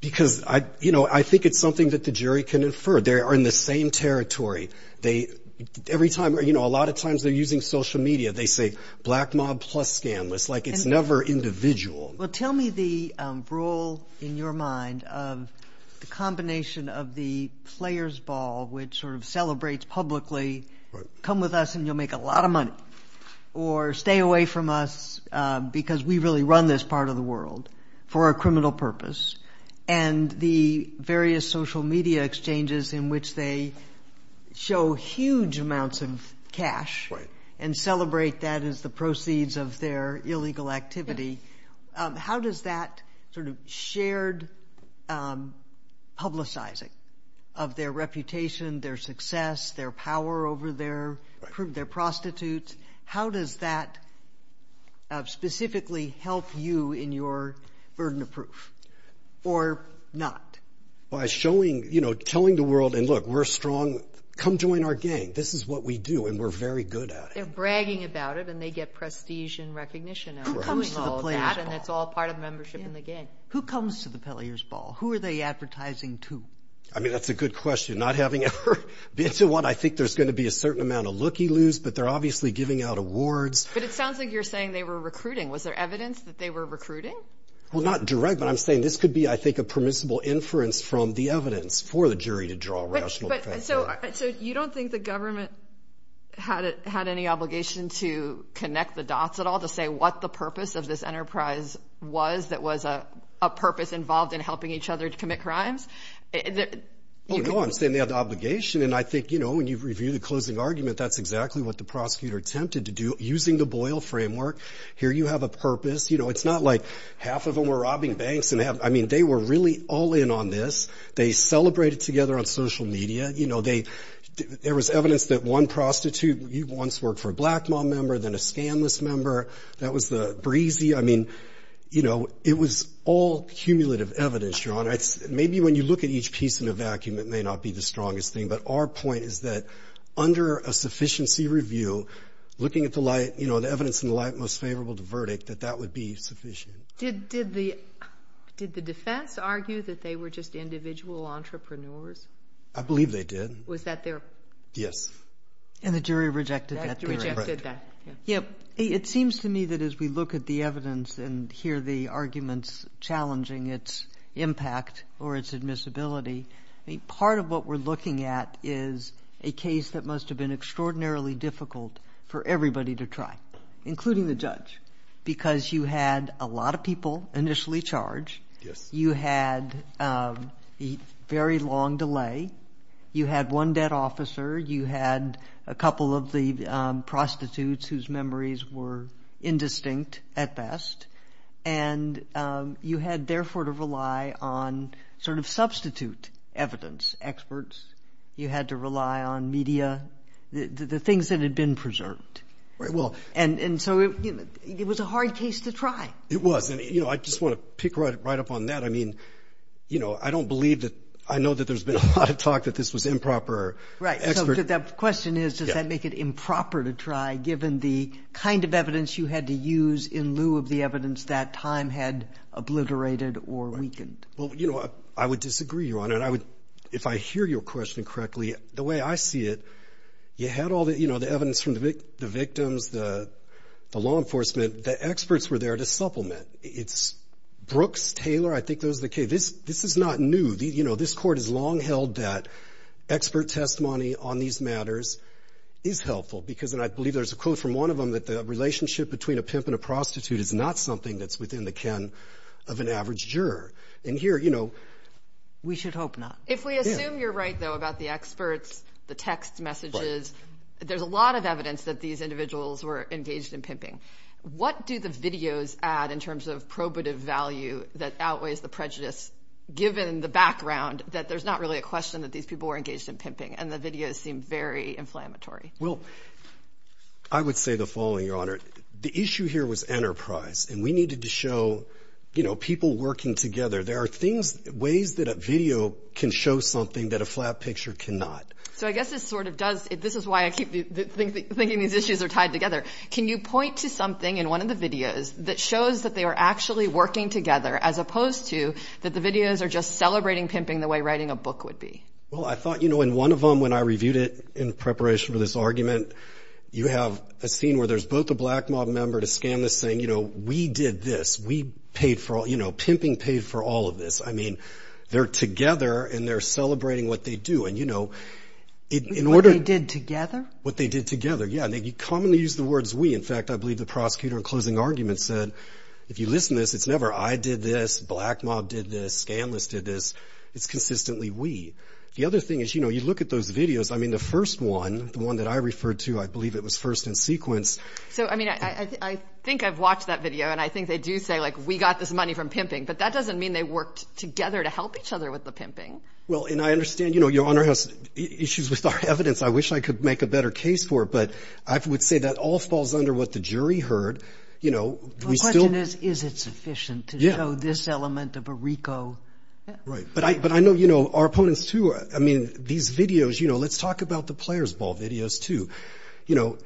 Because, you know, I think it's something that the jury can infer. They are in the same territory. Every time, you know, a lot of times they're using social media. They say Black Mob plus Scandalous. Like, it's never individual. Well, tell me the rule in your mind of the combination of the players ball, which sort of celebrates publicly, come with us and you'll make a lot of money, or stay away from us because we really run this part of the world for a criminal purpose, and the various social media exchanges in which they show huge amounts of cash and celebrate that as the proceeds of their illegal activity. How does that sort of shared publicizing of their reputation, their success, their power over their prostitutes, how does that specifically help you in your burden of proof? Or not? By showing, you know, telling the world, and look, we're strong. Come join our gang. This is what we do, and we're very good at it. They're bragging about it, and they get prestige and recognition out of it. Who comes to the players ball? And it's all part of membership in the gang. Who comes to the players ball? Who are they advertising to? I mean, that's a good question. Not having ever been to one, I think there's going to be a certain amount of looky-loos, but they're obviously giving out awards. But it sounds like you're saying they were recruiting. Was there evidence that they were recruiting? Well, not direct, but I'm saying this could be, I think, a permissible inference from the evidence for the jury to draw a rational conclusion. So you don't think the government had any obligation to connect the dots at all, to say what the purpose of this enterprise was, that was a purpose involved in helping each other to commit crimes? Oh, no, I'm saying they had the obligation. And I think, you know, when you review the closing argument, that's exactly what the prosecutor attempted to do using the Boyle framework. Here you have a purpose. You know, it's not like half of them were robbing banks. I mean, they were really all in on this. They celebrated together on social media. You know, there was evidence that one prostitute once worked for a Blackmaw member, then a scandalous member. That was the breezy. I mean, you know, it was all cumulative evidence, Your Honor. Maybe when you look at each piece in a vacuum, it may not be the strongest thing. But our point is that under a sufficiency review, looking at the light, you know, the evidence in the light most favorable to verdict, that that would be sufficient. Did the defense argue that they were just individual entrepreneurs? I believe they did. Was that their? Yes. And the jury rejected that. It seems to me that as we look at the evidence and hear the arguments challenging its impact or its admissibility, part of what we're looking at is a case that must have been extraordinarily difficult for everybody to try, including the judge, because you had a lot of people initially charged. You had a very long delay. You had one dead officer. You had a couple of the prostitutes whose memories were indistinct at best. And you had, therefore, to rely on sort of substitute evidence experts. You had to rely on media, the things that had been preserved. And so it was a hard case to try. It was. And, you know, I just want to pick right up on that. I mean, you know, I don't believe that – I know that there's been a lot of talk that this was improper. Right. So the question is, does that make it improper to try, given the kind of evidence you had to use in lieu of the evidence that time had obliterated or weakened? Well, you know, I would disagree, Your Honor. If I hear your question correctly, the way I see it, you had all the evidence from the victims, the law enforcement. The experts were there to supplement. Brooks, Taylor, I think those are the cases. This is not new. You know, this Court has long held that expert testimony on these matters is helpful because, and I believe there's a quote from one of them, that the relationship between a pimp and a prostitute is not something that's within the ken of an average juror. And here, you know, we should hope not. If we assume you're right, though, about the experts, the text messages, there's a lot of evidence that these individuals were engaged in pimping. What do the videos add in terms of probative value that outweighs the prejudice given the background that there's not really a question that these people were engaged in pimping and the videos seem very inflammatory? Well, I would say the following, Your Honor. The issue here was enterprise, and we needed to show, you know, people working together. There are things, ways that a video can show something that a flat picture cannot. So I guess this sort of does, this is why I keep thinking these issues are tied together. Can you point to something in one of the videos that shows that they are actually working together as opposed to that the videos are just celebrating pimping the way writing a book would be? Well, I thought, you know, in one of them when I reviewed it in preparation for this argument, you have a scene where there's both a black mob member to scan this saying, you know, we did this, we paid for all, you know, pimping paid for all of this. I mean, they're together and they're celebrating what they do. And, you know, in order to... What they did together? What they did together, yeah. And they commonly use the words we. In fact, I believe the prosecutor in closing argument said, if you listen to this, it's never I did this, black mob did this, scan list did this. It's consistently we. The other thing is, you know, you look at those videos. I mean, the first one, the one that I referred to, I believe it was first in sequence. So, I mean, I think I've watched that video and I think they do say like we got this money from pimping, but that doesn't mean they worked together to help each other with the pimping. Well, and I understand, you know, Your Honor has issues with our evidence. I wish I could make a better case for it, but I would say that all falls under what the jury heard. You know, we still... The question is, is it sufficient to show this element of a RICO? Right. But I know, you know, our opponents, too. I mean, these videos, you know, let's talk about the players' ball videos, too. You know,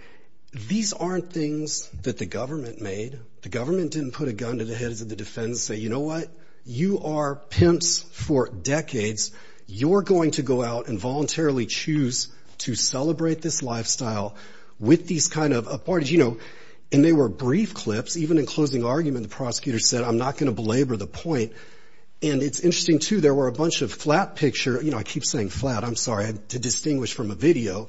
these aren't things that the government made. The government didn't put a gun to the heads of the defense and say, you know what? You are pimps for decades. You're going to go out and voluntarily choose to celebrate this lifestyle with these kind of... And they were brief clips. Even in closing argument, the prosecutor said, I'm not going to belabor the point. And it's interesting, too. There were a bunch of flat picture... You know, I keep saying flat. I'm sorry. To distinguish from a video,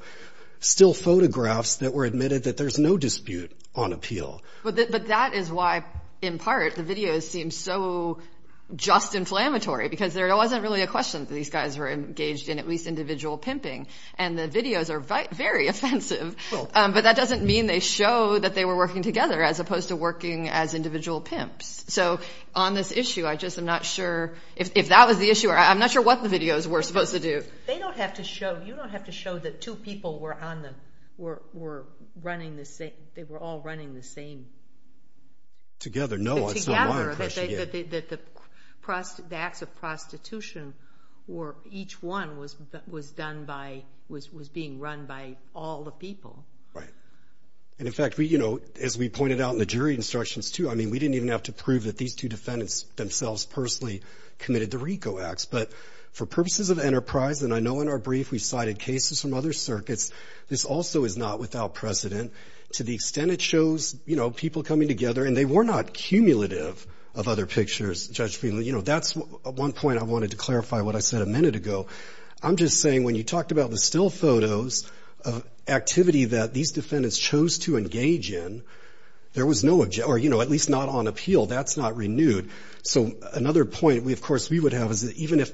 still photographs that were admitted that there's no dispute on appeal. But that is why, in part, the videos seem so just inflammatory because there wasn't really a question that these guys were engaged in at least individual pimping. And the videos are very offensive. But that doesn't mean they show that they were working together as opposed to working as individual pimps. So on this issue, I just am not sure... If that was the issue, I'm not sure what the videos were supposed to do. They don't have to show... You don't have to show that two people were on them, were running the same... They were all running the same. Together, no. Together. The acts of prostitution were... Each one was done by... Was being run by all the people. Right. And, in fact, we... You know, as we pointed out in the jury instructions, too... I mean, we didn't even have to prove that these two defendants themselves personally committed the RICO acts. But for purposes of enterprise... And I know in our brief we cited cases from other circuits. This also is not without precedent. To the extent it shows... You know, people coming together. And they were not cumulative of other pictures, Judge Feeley. You know, that's one point I wanted to clarify what I said a minute ago. I'm just saying when you talked about the still photos of activity that these defendants chose to engage in... There was no... Or, you know, at least not on appeal. That's not renewed. So another point we... Of course, we would have is that even if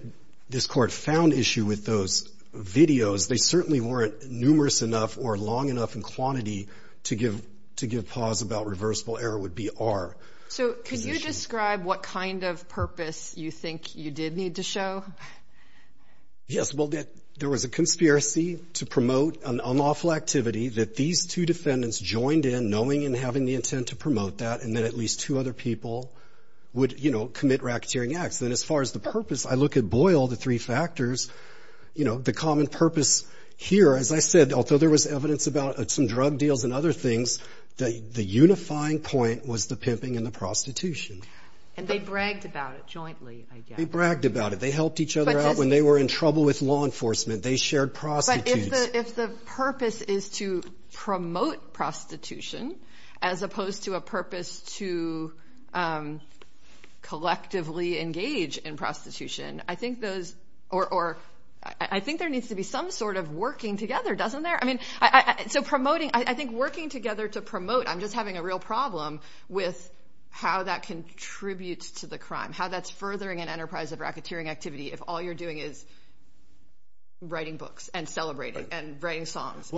this court found issue with those videos... Because they certainly weren't numerous enough or long enough in quantity... To give... To give pause about reversible error would be our... So, could you describe what kind of purpose you think you did need to show? Yes, well... There was a conspiracy to promote an unlawful activity that these two defendants joined in... Knowing and having the intent to promote that. And that at least two other people would... You know, commit racketeering acts. And as far as the purpose... I look at Boyle, the three factors. You know, the common purpose here. As I said, although there was evidence about some drug deals and other things... The unifying point was the pimping and the prostitution. And they bragged about it jointly, I guess. They bragged about it. They helped each other out when they were in trouble with law enforcement. They shared prostitutes. But if the purpose is to promote prostitution... As opposed to a purpose to collectively engage in prostitution... I think there needs to be some sort of working together, doesn't there? So promoting... I think working together to promote... I'm just having a real problem with how that contributes to the crime. How that's furthering an enterprise of racketeering activity. If all you're doing is writing books and celebrating and writing songs.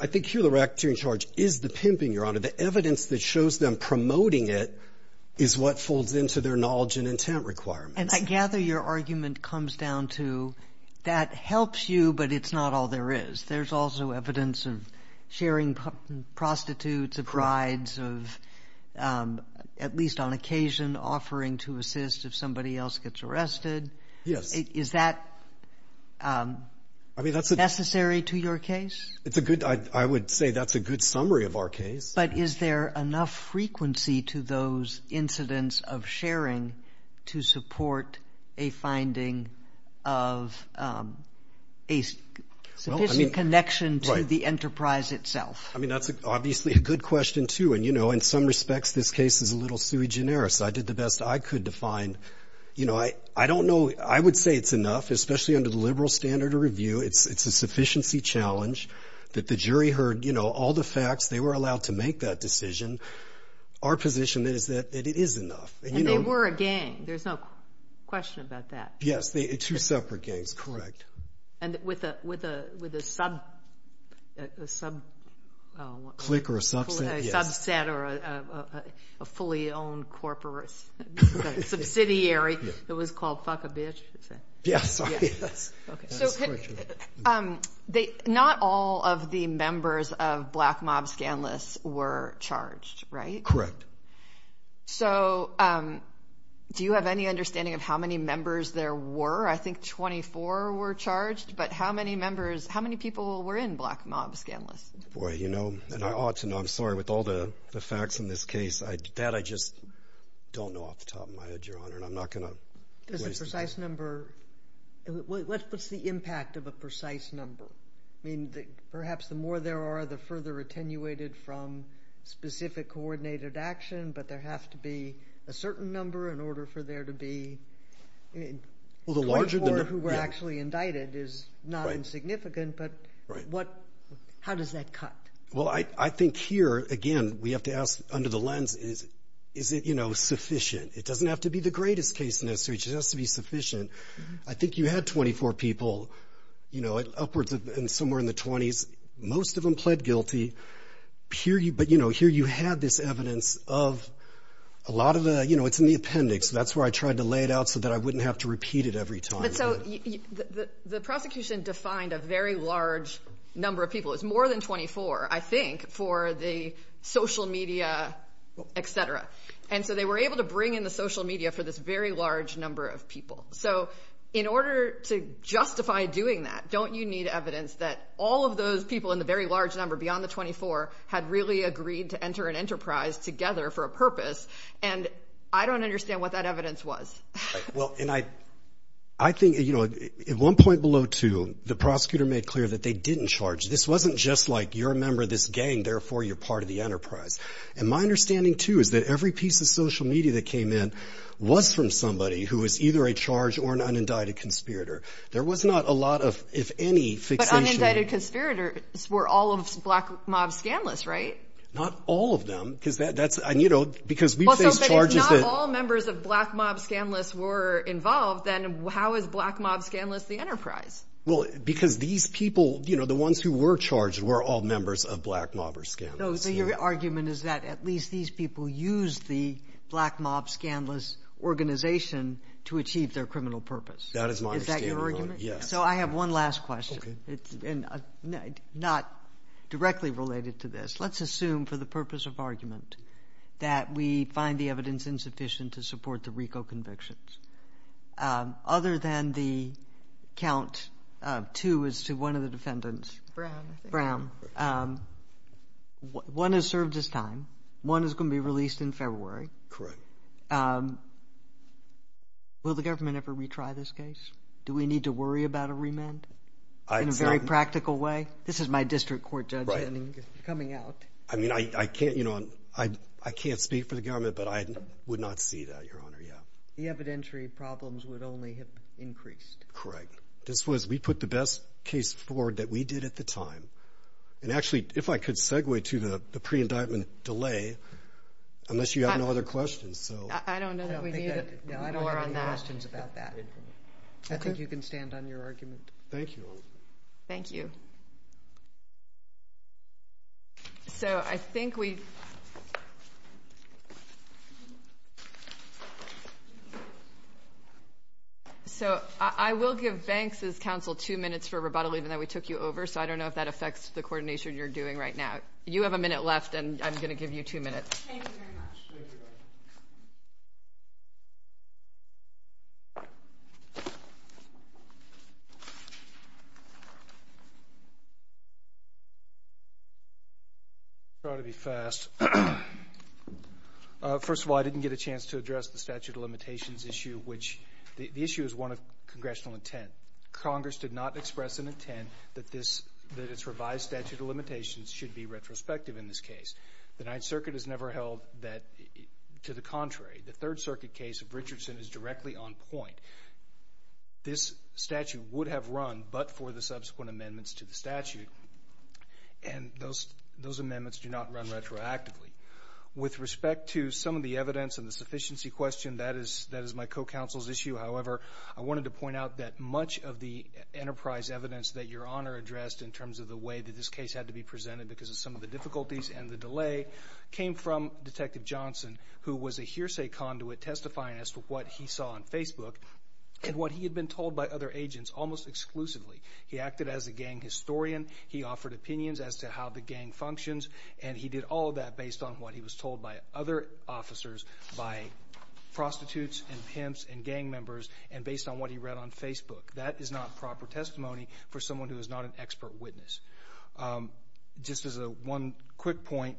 I think here the racketeering charge is the pimping, Your Honor. The evidence that shows them promoting it is what folds into their knowledge and intent requirements. And I gather your argument comes down to that helps you, but it's not all there is. There's also evidence of sharing prostitutes, of rides, of at least on occasion offering to assist if somebody else gets arrested. Yes. Is that necessary to your case? It's a good... I would say that's a good summary of our case. But is there enough frequency to those incidents of sharing to support a finding of a sufficient connection to the enterprise itself? I mean, that's obviously a good question, too. And, you know, in some respects this case is a little sui generis. I did the best I could to find... You know, I don't know... I would say it's enough, especially under the liberal standard of review. It's a sufficiency challenge that the jury heard, you know, all the facts. They were allowed to make that decision. Our position is that it is enough. And they were a gang. There's no question about that. Yes. Two separate gangs. Correct. And with a sub... Click or a subset, yes. A subset or a fully owned corporate subsidiary that was called Fuckabitch. Yes. So not all of the members of Black Mob Scandalous were charged, right? Correct. So do you have any understanding of how many members there were? I think 24 were charged. But how many members... how many people were in Black Mob Scandalous? Boy, you know, and I ought to know. I'm sorry. With all the facts in this case, that I just don't know off the top of my head, Your Honor, and I'm not going to... Does a precise number... what's the impact of a precise number? I mean, perhaps the more there are, the further attenuated from specific coordinated action, but there has to be a certain number in order for there to be... Well, the larger...... who were actually indicted is not insignificant, but what... how does that cut? Well, I think here, again, we have to ask under the lens, is it, you know, sufficient? It doesn't have to be the greatest case, necessarily. It just has to be sufficient. I think you had 24 people, you know, upwards of somewhere in the 20s. Most of them pled guilty. Here you... but, you know, here you have this evidence of a lot of the... You know, it's in the appendix. That's where I tried to lay it out so that I wouldn't have to repeat it every time. So the prosecution defined a very large number of people. It was more than 24, I think, for the social media, et cetera. And so they were able to bring in the social media for this very large number of people. So in order to justify doing that, don't you need evidence that all of those people in the very large number, beyond the 24, had really agreed to enter an enterprise together for a purpose? And I don't understand what that evidence was. Well, and I think, you know, at one point below two, the prosecutor made clear that they didn't charge. This wasn't just like, you're a member of this gang, therefore you're part of the enterprise. And my understanding, too, is that every piece of social media that came in was from somebody who was either a charge or an unindicted conspirator. There was not a lot of, if any, fixation... But unindicted conspirators were all of Black Mob Scandalous, right? Not all of them, because that's... and, you know, because we face charges that... Well, so if not all members of Black Mob Scandalous were involved, then how is Black Mob Scandalous the enterprise? Well, because these people, you know, the ones who were charged, were all members of Black Mob or Scandalous. So your argument is that at least these people used the Black Mob Scandalous organization to achieve their criminal purpose. That is my understanding. Is that your argument? Yes. So I have one last question, and not directly related to this. Let's assume, for the purpose of argument, that we find the evidence insufficient to support the RICO convictions. Brown. Brown. One has served its time. One is going to be released in February. Correct. Will the government ever retry this case? Do we need to worry about a remand in a very practical way? This is my district court judgment coming out. Right. I mean, I can't, you know, I can't speak for the government, but I would not see that, Your Honor, yeah. The evidentiary problems would only have increased. Correct. This was, we put the best case forward that we did at the time. And actually, if I could segue to the pre-indictment delay, unless you have no other questions, so. I don't know that we need it. No, I don't have any questions about that. I think you can stand on your argument. Thank you, Your Honor. Thank you. So I think we've. So I will give Banks' counsel two minutes for rebuttal, even though we took you over. So I don't know if that affects the coordination you're doing right now. You have a minute left, and I'm going to give you two minutes. Thank you very much. Thank you. Thank you. I'll try to be fast. First of all, I didn't get a chance to address the statute of limitations issue, which the issue is one of congressional intent. Congress did not express an intent that this, that its revised statute of limitations should be retrospective in this case. The Ninth Circuit has never held that to the contrary. The Third Circuit case of Richardson is directly on point. This statute would have run but for the subsequent amendments to the statute, and those amendments do not run retroactively. With respect to some of the evidence and the sufficiency question, that is my co-counsel's issue. However, I wanted to point out that much of the enterprise evidence that you're on are addressed in terms of the way that this case had to be presented because of some of the difficulties and the delay came from Detective Johnson, who was a hearsay conduit testifying as to what he saw on Facebook and what he had been told by other agents almost exclusively. He acted as a gang historian. He offered opinions as to how the gang functions, and he did all of that based on what he was told by other officers, by prostitutes and pimps and gang members, and based on what he read on Facebook. That is not proper testimony for someone who is not an expert witness. Just as one quick point,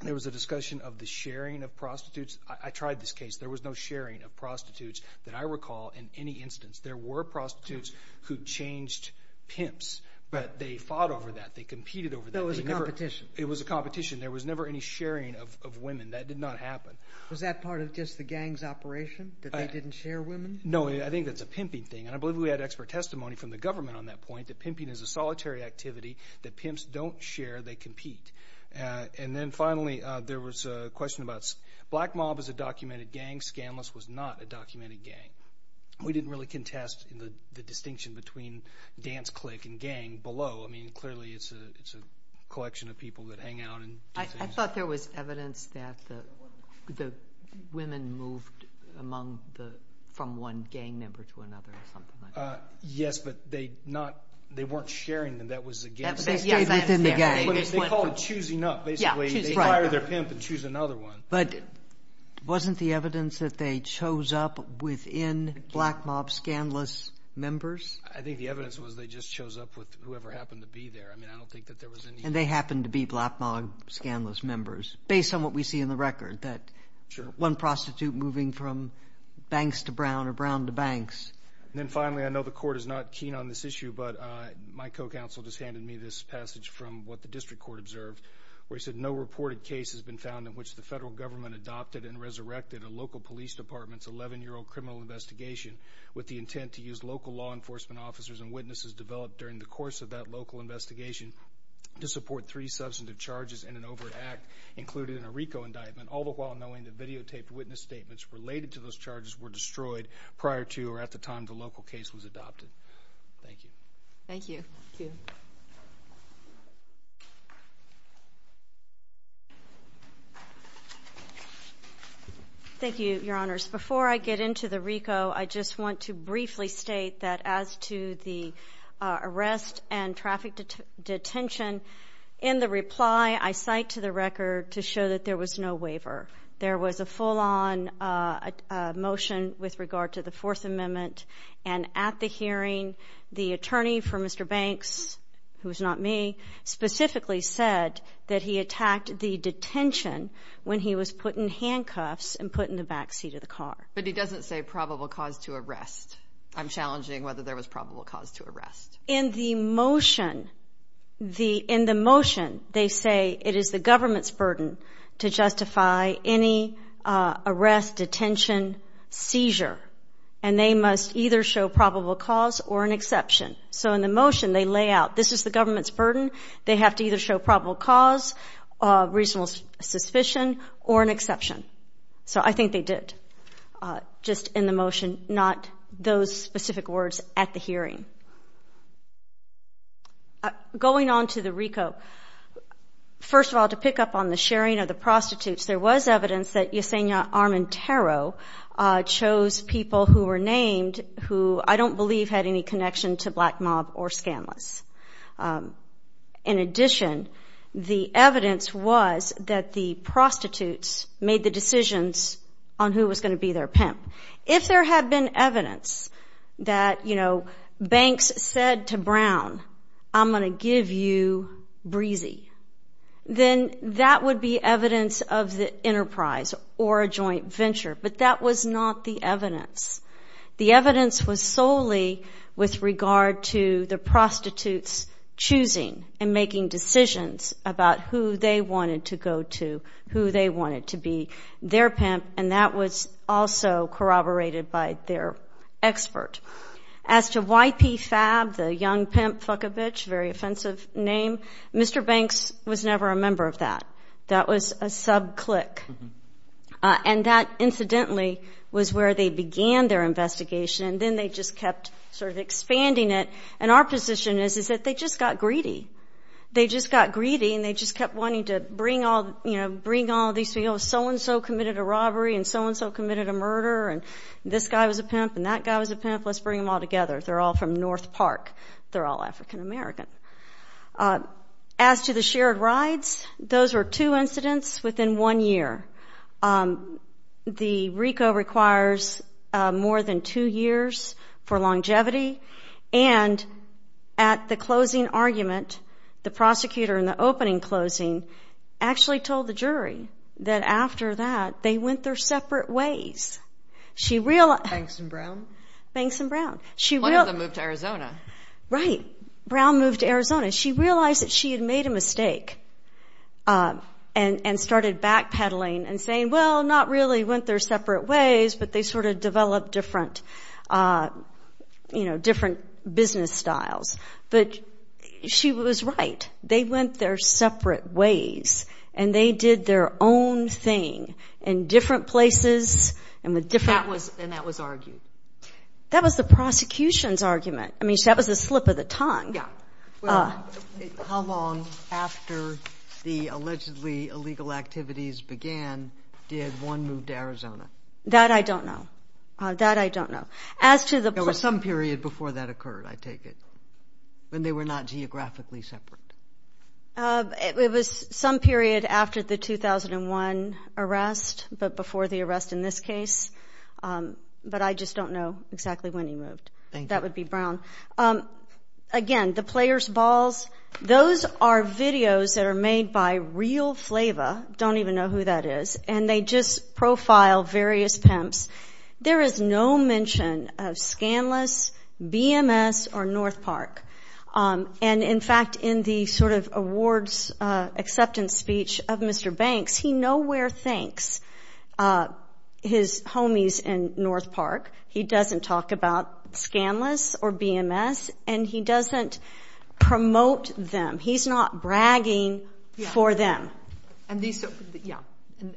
there was a discussion of the sharing of prostitutes. I tried this case. There was no sharing of prostitutes that I recall in any instance. There were prostitutes who changed pimps, but they fought over that. They competed over that. It was a competition. It was a competition. There was never any sharing of women. That did not happen. Was that part of just the gang's operation, that they didn't share women? No, I think that's a pimping thing, and I believe we had expert testimony from the government on that point, that pimping is a solitary activity that pimps don't share. They compete. Then finally, there was a question about Black Mob as a documented gang. Scandalous was not a documented gang. We didn't really contest the distinction between dance clique and gang below. Clearly, it's a collection of people that hang out and do things. I thought there was evidence that the women moved from one gang member to another or something like that. Yes, but they weren't sharing them. That was a gang thing. They stayed within the gang. They called it choosing up, basically. They fire their pimp and choose another one. But wasn't the evidence that they chose up within Black Mob scandalous members? I think the evidence was they just chose up with whoever happened to be there. I don't think that there was any— And they happened to be Black Mob scandalous members, based on what we see in the record, that one prostitute moving from Banks to Brown or Brown to Banks. Then finally, I know the court is not keen on this issue, but my co-counsel just handed me this passage from what the district court observed, where he said, No reported case has been found in which the federal government adopted and resurrected a local police department's 11-year-old criminal investigation with the intent to use local law enforcement officers and witnesses developed during the course of that local investigation to support three substantive charges and an overt act, including a RICO indictment, all the while knowing that videotaped witness statements related to those charges were destroyed prior to or at the time the local case was adopted. Thank you. Thank you. Thank you, Your Honors. Before I get into the RICO, I just want to briefly state that as to the arrest and traffic detention, in the reply I cite to the record to show that there was no waiver. There was a full-on motion with regard to the Fourth Amendment, and at the hearing, the attorney for Mr. Banks, who is not me, specifically said that he attacked the detention when he was put in handcuffs and put in the back seat of the car. But he doesn't say probable cause to arrest. I'm challenging whether there was probable cause to arrest. In the motion, they say it is the government's burden to justify any arrest, detention, seizure, and they must either show probable cause or an exception. So in the motion, they lay out this is the government's burden. They have to either show probable cause, reasonable suspicion, or an exception. So I think they did, just in the motion, not those specific words at the hearing. Going on to the RICO, first of all, to pick up on the sharing of the prostitutes, there was evidence that Yesenia Armentaro chose people who were named who I don't believe had any connection to Black Mob or Scandalous. In addition, the evidence was that the prostitutes made the decisions on who was going to be their pimp. If there had been evidence that banks said to Brown, I'm going to give you Breezy, then that would be evidence of the enterprise or a joint venture, but that was not the evidence. The evidence was solely with regard to the prostitutes choosing and making decisions about who they wanted to go to, who they wanted to be their pimp, and that was also corroborated by their expert. As to YP Fab, the young pimp, fuck a bitch, very offensive name, Mr. Banks was never a member of that. That was a sub-click. And that, incidentally, was where they began their investigation, and then they just kept sort of expanding it. And our position is that they just got greedy. They just got greedy, and they just kept wanting to bring all these people, so-and-so committed a robbery and so-and-so committed a murder and this guy was a pimp and that guy was a pimp, let's bring them all together. They're all from North Park. They're all African American. As to the shared rides, those were two incidents within one year. The RICO requires more than two years for longevity, and at the closing argument, the prosecutor in the opening closing actually told the jury that after that they went their separate ways. Banks and Brown? Banks and Brown. One of them moved to Arizona. Right. Brown moved to Arizona. She realized that she had made a mistake and started backpedaling and saying, well, not really went their separate ways, but they sort of developed different business styles. But she was right. They went their separate ways, and they did their own thing in different places and with different- And that was argued. That was the prosecution's argument. I mean, that was the slip of the tongue. Yeah. Well, how long after the allegedly illegal activities began did one move to Arizona? That I don't know. That I don't know. As to the- The day before that occurred, I take it, when they were not geographically separate. It was some period after the 2001 arrest, but before the arrest in this case. But I just don't know exactly when he moved. That would be Brown. Again, the player's balls, those are videos that are made by Real Flava. Don't even know who that is. And they just profile various pimps. There is no mention of Scandalous, BMS, or North Park. And, in fact, in the sort of awards acceptance speech of Mr. Banks, he nowhere thanks his homies in North Park. He doesn't talk about Scandalous or BMS, and he doesn't promote them. He's not bragging for them. Yeah.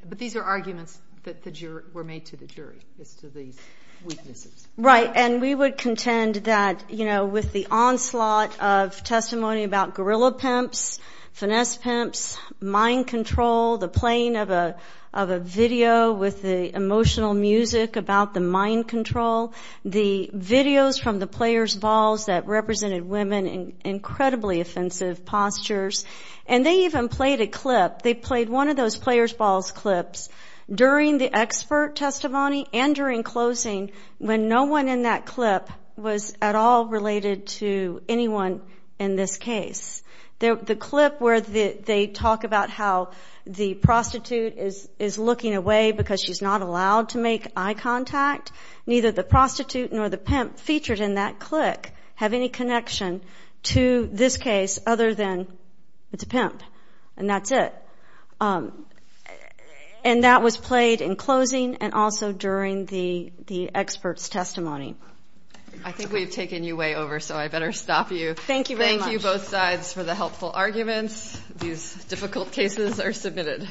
But these are arguments that were made to the jury as to these weaknesses. Right, and we would contend that, you know, with the onslaught of testimony about guerrilla pimps, finesse pimps, mind control, the playing of a video with the emotional music about the mind control, the videos from the player's balls that represented women in incredibly offensive postures. And they even played a clip. They played one of those player's balls clips during the expert testimony and during closing when no one in that clip was at all related to anyone in this case. The clip where they talk about how the prostitute is looking away because she's not allowed to make eye contact, neither the prostitute nor the pimp featured in that click have any connection to this case other than it's a pimp, and that's it. And that was played in closing and also during the expert's testimony. I think we've taken you way over, so I better stop you. Thank you very much. Thank you, both sides, for the helpful arguments. These difficult cases are submitted.